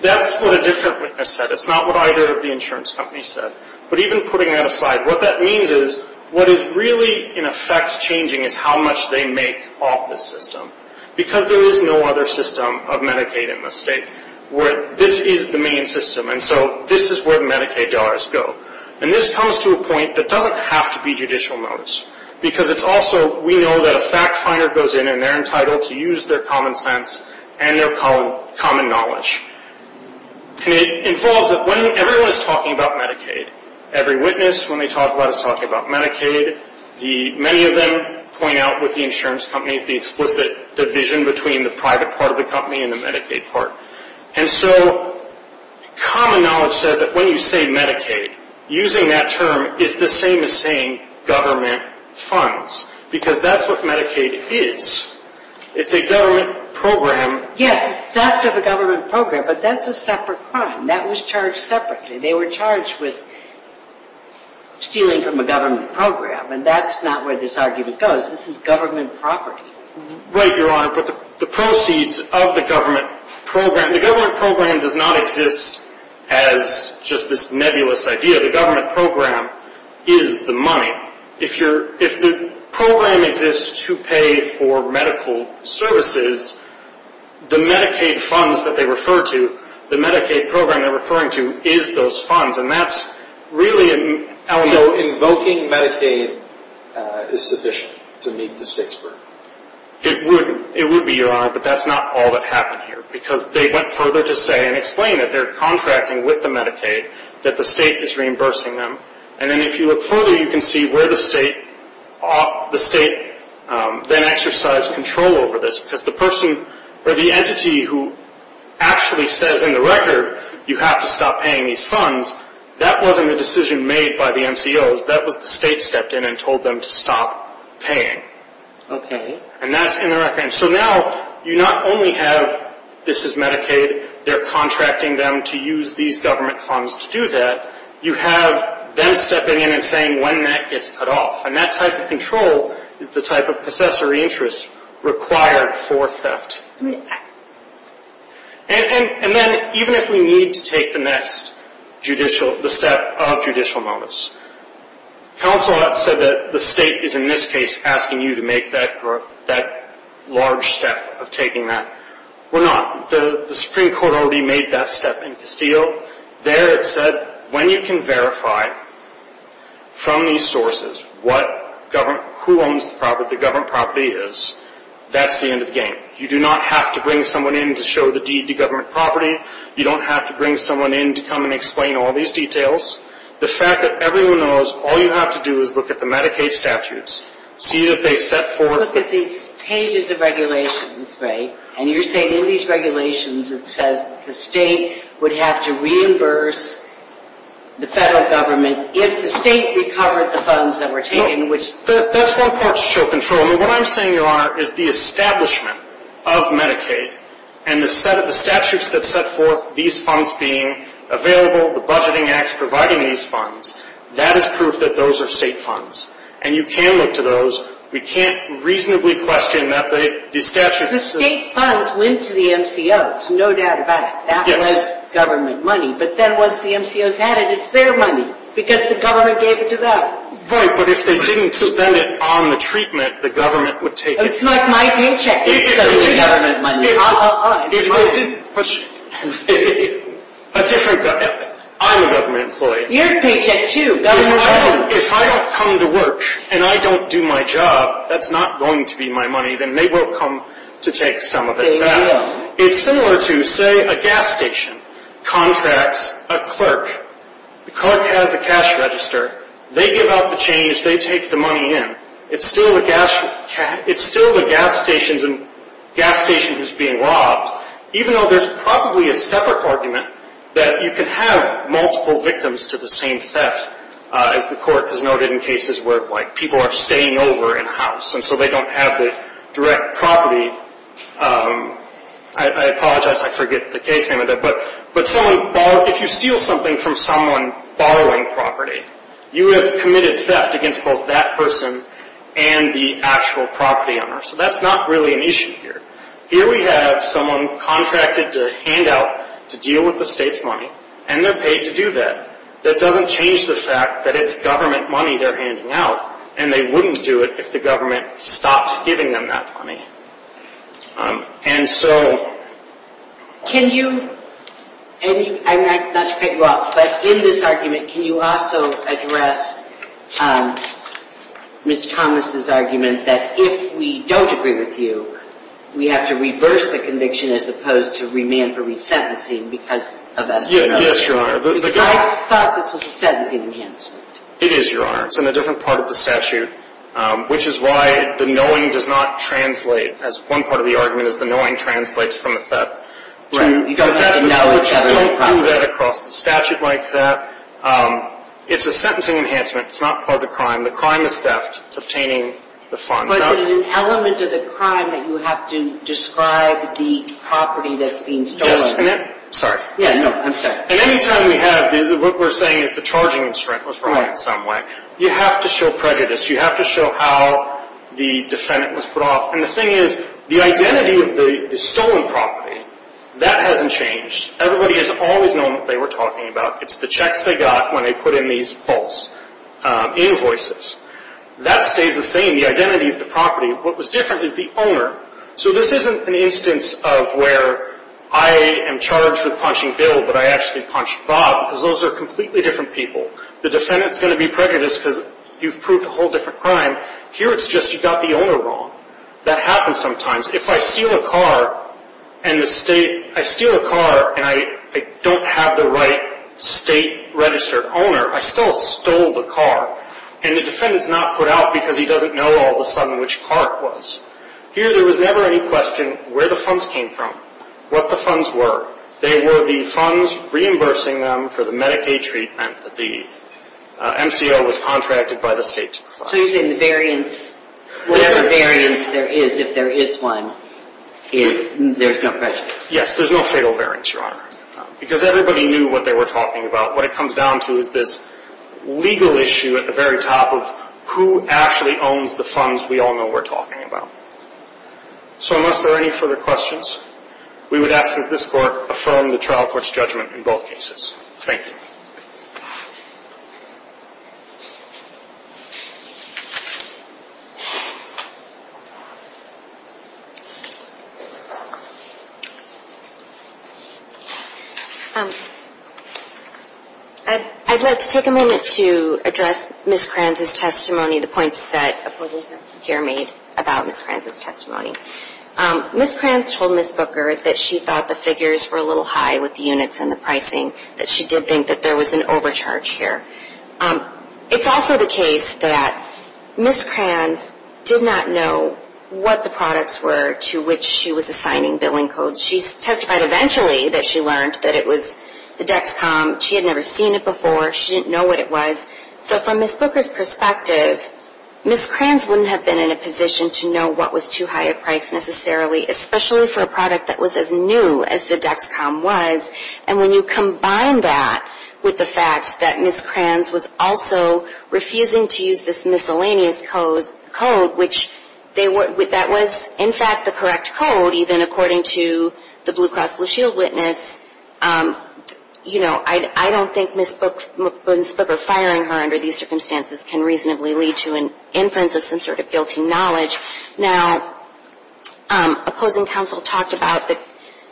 That's what a different witness said. It's not what either of the insurance companies said. But even putting that aside, what that means is, what is really, in effect, changing is how much they make off this system. Because there is no other system of Medicaid in the State. This is the main system, and so this is where the Medicaid dollars go. And this comes to a point that doesn't have to be judicial notice. Because it's also, we know that a fact finder goes in, and they're entitled to use their common sense and their common knowledge. And it involves that when everyone is talking about Medicaid, every witness, when they talk about it, is talking about Medicaid. Many of them point out, with the insurance companies, the explicit division between the private part of the company and the Medicaid part. And so common knowledge says that when you say Medicaid, using that term is the same as saying government funds. Because that's what Medicaid is. It's a government program. Yes, it's a government program, but that's a separate crime. That was charged separately. They were charged with stealing from a government program. And that's not where this argument goes. This is government property. Right, Your Honor, but the proceeds of the government program, the government program does not exist as just this nebulous idea. The government program is the money. If the program exists to pay for medical services, the Medicaid funds that they refer to, the Medicaid program they're referring to, is those funds, and that's really an element. So invoking Medicaid is sufficient to meet the state's burden? It would be, Your Honor, but that's not all that happened here. Because they went further to say and explain that they're contracting with the Medicaid, that the state is reimbursing them. And then if you look further, you can see where the state then exercised control over this. Because the entity who actually says in the record, you have to stop paying these funds, that wasn't a decision made by the MCOs. That was the state stepped in and told them to stop paying. Okay. And that's in the record. And so now you not only have this is Medicaid, they're contracting them to use these government funds to do that. You have them stepping in and saying when that gets cut off. And that type of control is the type of possessory interest required for theft. And then even if we need to take the next judicial, the step of judicial notice, counsel said that the state is in this case asking you to make that large step of taking that. We're not. The Supreme Court already made that step in Castillo. There it said when you can verify from these sources what government, who owns the property, the government property is, that's the end of the game. You do not have to bring someone in to show the deed to government property. You don't have to bring someone in to come and explain all these details. The fact that everyone knows all you have to do is look at the Medicaid statutes, see that they set forth. Look at these pages of regulations, right? And you're saying in these regulations it says the state would have to reimburse the federal government if the state recovered the funds that were taken, which. That's one part to show control. I mean, what I'm saying, Your Honor, is the establishment of Medicaid and the set of the statutes that set forth these funds being available, the budgeting acts providing these funds, that is proof that those are state funds. And you can look to those. We can't reasonably question that the statutes. The state funds went to the MCOs, no doubt about it. That was government money. But then once the MCOs had it, it's their money because the government gave it to them. Right, but if they didn't spend it on the treatment, the government would take it. It's not my paycheck. It's government money. If I didn't push, I'm a government employee. You're a paycheck too. If I don't come to work and I don't do my job, that's not going to be my money. Then they will come to take some of it back. It's similar to, say, a gas station contracts a clerk. The clerk has a cash register. They give out the change. They take the money in. It's still the gas stations and gas stations being robbed, even though there's probably a separate argument that you can have multiple victims to the same theft, as the court has noted in cases where, like, people are staying over in-house, and so they don't have the direct property. I apologize. I forget the case name of that. But if you steal something from someone borrowing property, you have committed theft against both that person and the actual property owner. So that's not really an issue here. Here we have someone contracted to hand out, to deal with the state's money, and they're paid to do that. That doesn't change the fact that it's government money they're handing out, and they wouldn't do it if the government stopped giving them that money. And so can you, and I'm not to cut you off, but in this argument can you also address Ms. Thomas' argument that if we don't agree with you, we have to reverse the conviction as opposed to remand for resentencing because of us. Yes, Your Honor. Because I thought this was a sentencing enhancement. It is, Your Honor. It's in a different part of the statute, which is why the knowing does not translate, as one part of the argument is the knowing translates from the theft. But that doesn't do that across the statute like that. It's a sentencing enhancement. It's not part of the crime. The crime is theft. It's obtaining the funds. But it's an element of the crime that you have to describe the property that's being stolen. Sorry. Yeah, no, I'm sorry. At any time we have, what we're saying is the charging constraint was right in some way. You have to show prejudice. You have to show how the defendant was put off. And the thing is, the identity of the stolen property, that hasn't changed. Everybody has always known what they were talking about. It's the checks they got when they put in these false invoices. That stays the same, the identity of the property. What was different is the owner. So this isn't an instance of where I am charged with punching Bill but I actually punched Bob because those are completely different people. The defendant is going to be prejudiced because you've proved a whole different crime. Here it's just you got the owner wrong. That happens sometimes. If I steal a car and I don't have the right state registered owner, I still stole the car. And the defendant is not put out because he doesn't know all of a sudden which car it was. Here there was never any question where the funds came from, what the funds were. They were the funds reimbursing them for the Medicaid treatment that the MCO was contracted by the state to provide. So you're saying the variance, whatever variance there is, if there is one, there's no prejudice. Yes, there's no fatal variance, Your Honor. Because everybody knew what they were talking about. What it comes down to is this legal issue at the very top of who actually owns the funds we all know we're talking about. So unless there are any further questions, we would ask that this Court affirm the trial court's judgment in both cases. Thank you. I'd like to take a moment to address Ms. Kranz's testimony, the points that a person here made about Ms. Kranz's testimony. Ms. Kranz told Ms. Booker that she thought the figures were a little high with the units and the pricing, that she did think that there was an issue with the pricing. It's also the case that Ms. Kranz did not know what the products were to which she was assigning billing codes. She testified eventually that she learned that it was the Dexcom. She had never seen it before. She didn't know what it was. So from Ms. Booker's perspective, Ms. Kranz wouldn't have been in a position to know what was too high a price necessarily, especially for a product that was as new as the Dexcom was. And when you combine that with the fact that Ms. Kranz was also refusing to use this miscellaneous code, which that was in fact the correct code, even according to the Blue Cross Blue Shield witness, you know, I don't think Ms. Booker firing her under these circumstances can reasonably lead to an inference of some sort of guilty knowledge. Now, opposing counsel talked about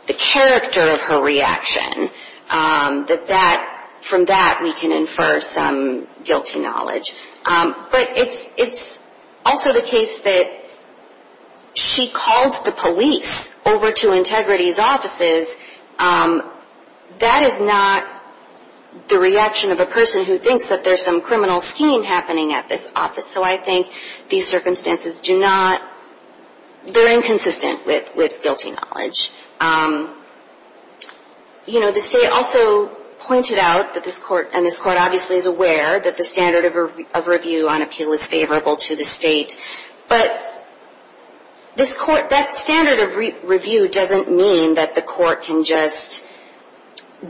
the character of her reaction, that that, from that we can infer some guilty knowledge. But it's also the case that she calls the police over to Integrity's offices. That is not the reaction of a person who thinks that there's some criminal scheme happening at this office. So I think these circumstances do not, they're inconsistent with guilty knowledge. You know, the state also pointed out that this court, and this court obviously is aware, that the standard of review on appeal is favorable to the state. But this court, that standard of review doesn't mean that the court can just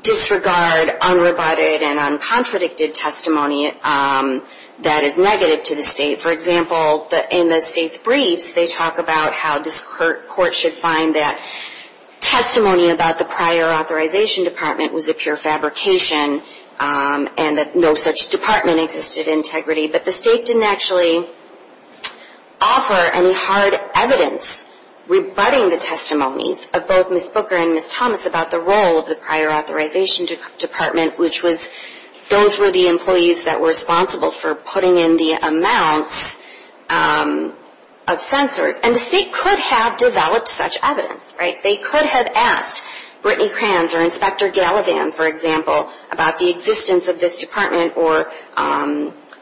disregard unrebutted and uncontradicted testimony that is negative to the state. For example, in the state's briefs, they talk about how this court should find that testimony about the prior authorization department was a pure fabrication, and that no such department existed in Integrity. But the state didn't actually offer any hard evidence rebutting the testimonies of both Ms. Booker and Ms. Thomas about the role of the prior authorization department, which was, those were the employees that were responsible for putting in the amounts of censors. And the state could have developed such evidence, right? They could have asked Brittany Kranz or Inspector Gallivan, for example, about the existence of this department, or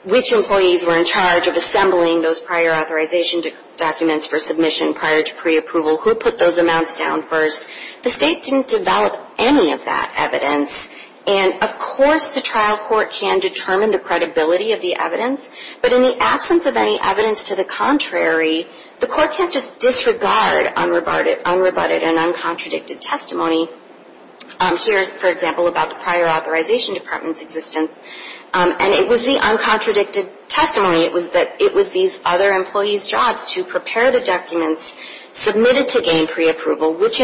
which employees were in charge of assembling those prior authorization documents for submission prior to preapproval, who put those amounts down first. The state didn't develop any of that evidence, and of course the trial court can determine the credibility of the evidence, but in the absence of any evidence to the contrary, the court can't just disregard unrebutted and uncontradicted testimony. Here, for example, about the prior authorization department's existence, and it was the uncontradicted testimony. It was these other employees' jobs to prepare the documents submitted to gain preapproval, which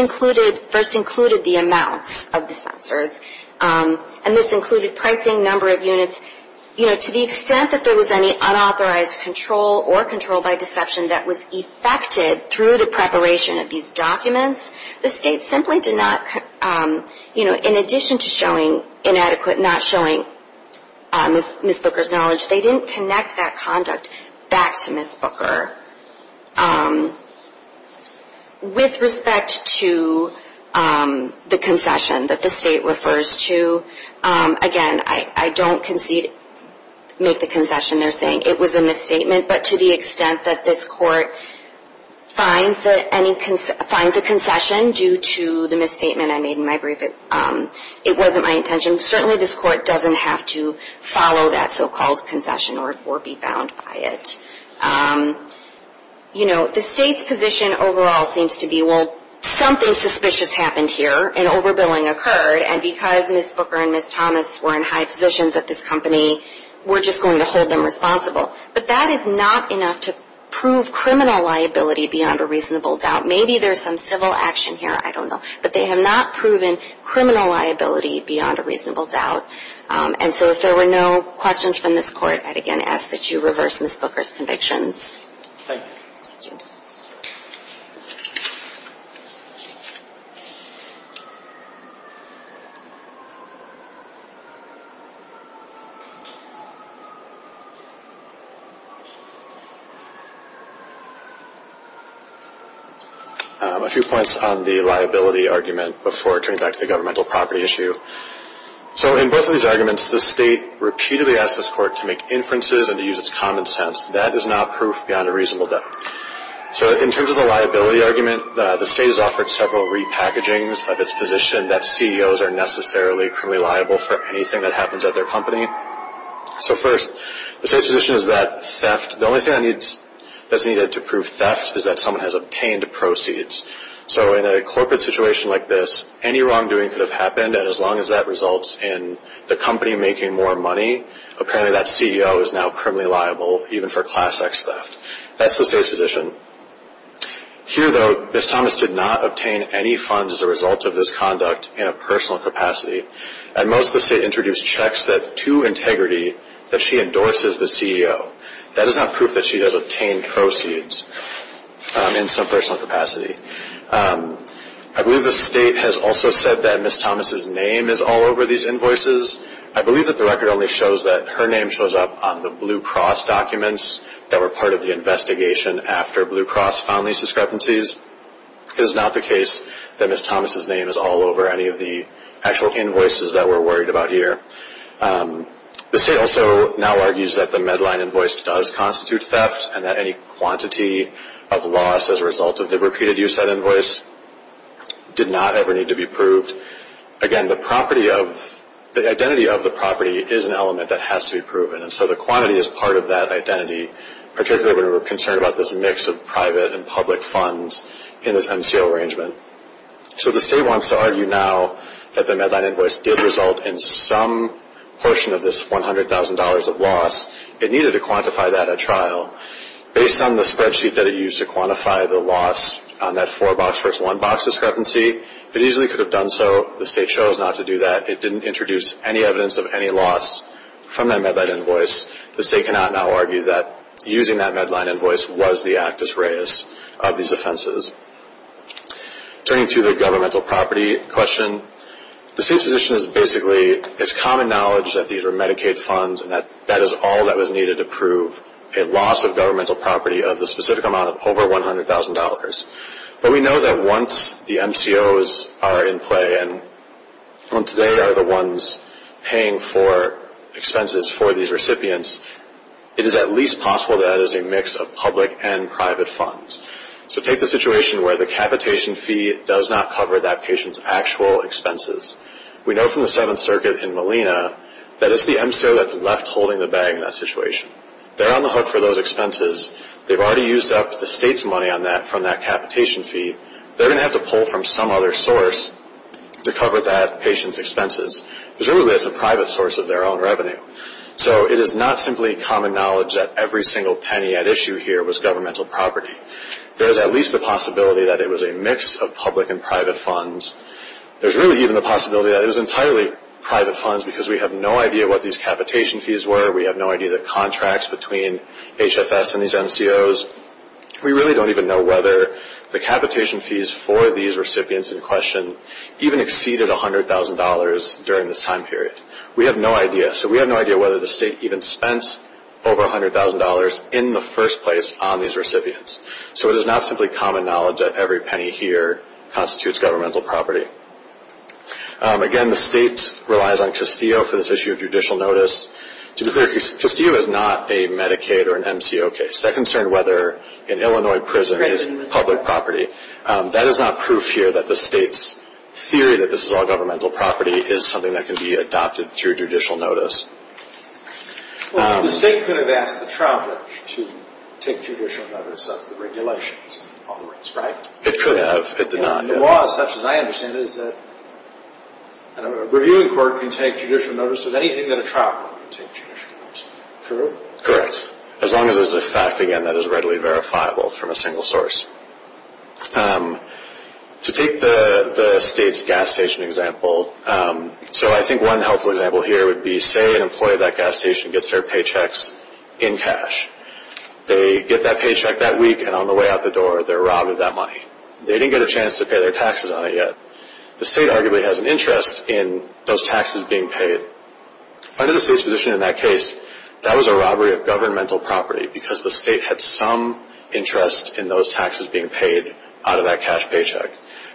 first included the amounts of the censors, and this included pricing, number of units. To the extent that there was any unauthorized control or control by deception that was effected through the preparation of these documents, the state simply did not, in addition to showing inadequate, not showing Ms. Booker's knowledge, they didn't connect that conduct back to Ms. Booker. With respect to the concession that the state refers to, again, I don't make the concession they're saying it was a misstatement, but to the extent that this court finds a concession due to the misstatement I made in my brief, it wasn't my intention. Certainly this court doesn't have to follow that so-called concession or be bound by it. You know, the state's position overall seems to be, well, something suspicious happened here, an overbilling occurred, and because Ms. Booker and Ms. Thomas were in high positions at this company, we're just going to hold them responsible. But that is not enough to prove criminal liability beyond a reasonable doubt. Maybe there's some civil action here, I don't know, but they have not proven criminal liability beyond a reasonable doubt. And so if there were no questions from this court, I'd again ask that you reverse Ms. Booker's convictions. Thank you. Thank you. A few points on the liability argument before it turns back to the governmental property issue. So in both of these arguments, the state repeatedly asks this court to make inferences and to use its common sense. That is not proof beyond a reasonable doubt. So in terms of the liability argument, the state has offered several repackagings of its position that CEOs are necessarily criminally liable for anything that happens at their company. So first, the state's position is that theft, the only thing that's needed to prove theft is that someone has obtained proceeds. So in a corporate situation like this, any wrongdoing could have happened, and as long as that results in the company making more money, apparently that CEO is now criminally liable, even for Class X theft. That's the state's position. Here, though, Ms. Thomas did not obtain any funds as a result of this conduct in a personal capacity. At most, the state introduced checks that, to integrity, that she endorses the CEO. That is not proof that she has obtained proceeds in some personal capacity. I believe the state has also said that Ms. Thomas' name is all over these invoices. I believe that the record only shows that her name shows up on the Blue Cross documents that were part of the investigation after Blue Cross found these discrepancies. It is not the case that Ms. Thomas' name is all over any of the actual invoices that we're worried about here. The state also now argues that the Medline invoice does constitute theft, and that any quantity of loss as a result of the repeated use of that invoice did not ever need to be proved. Again, the identity of the property is an element that has to be proven, and so the quantity is part of that identity, particularly when we're concerned about this mix of private and public funds in this MCO arrangement. So the state wants to argue now that the Medline invoice did result in some portion of this $100,000 of loss. It needed to quantify that at trial. Based on the spreadsheet that it used to quantify the loss on that four-box versus one-box discrepancy, it easily could have done so. The state chose not to do that. It didn't introduce any evidence of any loss from that Medline invoice. The state cannot now argue that using that Medline invoice was the actus reus of these offenses. Turning to the governmental property question, the state's position is basically it's common knowledge that these are Medicaid funds, and that that is all that was needed to prove a loss of governmental property of the specific amount of over $100,000. But we know that once the MCOs are in play, and once they are the ones paying for expenses for these recipients, it is at least possible that it is a mix of public and private funds. So take the situation where the capitation fee does not cover that patient's actual expenses. We know from the Seventh Circuit in Molina that it's the MCO that's left holding the bag in that situation. They're on the hook for those expenses. They've already used up the state's money on that from that capitation fee. They're going to have to pull from some other source to cover that patient's expenses. It really is a private source of their own revenue. So it is not simply common knowledge that every single penny at issue here was governmental property. There is at least the possibility that it was a mix of public and private funds. There's really even the possibility that it was entirely private funds because we have no idea what these capitation fees were. We have no idea the contracts between HFS and these MCOs. We really don't even know whether the capitation fees for these recipients in question even exceeded $100,000 during this time period. We have no idea. So we have no idea whether the state even spent over $100,000 in the first place on these recipients. So it is not simply common knowledge that every penny here constitutes governmental property. Again, the state relies on Castillo for this issue of judicial notice. To be clear, Castillo is not a Medicaid or an MCO case. That concerned whether an Illinois prison is public property. That is not proof here that the state's theory that this is all governmental property is something that can be adopted through judicial notice. Well, the state could have asked the trial court to take judicial notice of the regulations, in other words, right? It could have. It did not. And the law as such, as I understand it, is that a reviewing court can take judicial notice of anything that a trial court can take judicial notice of. True? Correct. As long as it's a fact, again, that is readily verifiable from a single source. To take the state's gas station example, so I think one helpful example here would be, say an employee at that gas station gets their paychecks in cash. They get that paycheck that week, and on the way out the door, they're robbed of that money. They didn't get a chance to pay their taxes on it yet. The state arguably has an interest in those taxes being paid. Under the state's position in that case, that was a robbery of governmental property because the state had some interest in those taxes being paid out of that cash paycheck.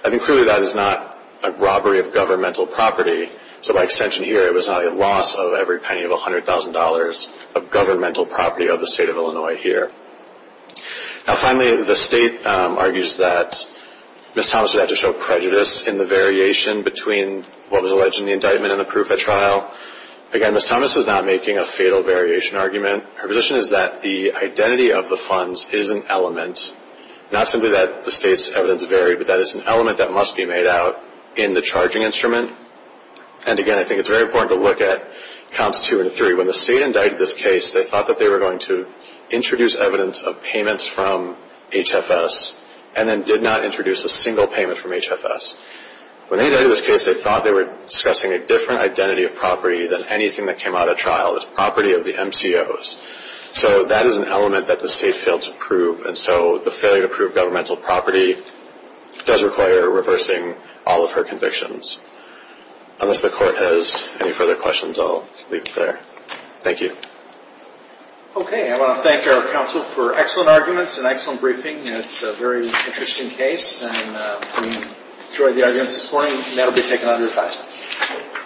I think clearly that is not a robbery of governmental property, so by extension here, it was not a loss of every penny of $100,000 of governmental property of the state of Illinois here. Now finally, the state argues that Ms. Thomas would have to show prejudice in the variation between what was alleged in the indictment and the proof at trial. Again, Ms. Thomas is not making a fatal variation argument. Her position is that the identity of the funds is an element, not simply that the state's evidence varied, but that it's an element that must be made out in the charging instrument. And again, I think it's very important to look at comps two and three. When the state indicted this case, they thought that they were going to introduce evidence of payments from HFS and then did not introduce a single payment from HFS. When they indicted this case, they thought they were discussing a different identity of property than anything that came out at trial. It was property of the MCOs. So that is an element that the state failed to prove, and so the failure to prove governmental property does require reversing all of her convictions. Unless the court has any further questions, I'll leave it there. Thank you. Okay, I want to thank our counsel for excellent arguments and excellent briefing. It's a very interesting case, and we enjoyed the arguments this morning, and that will be taken under revised.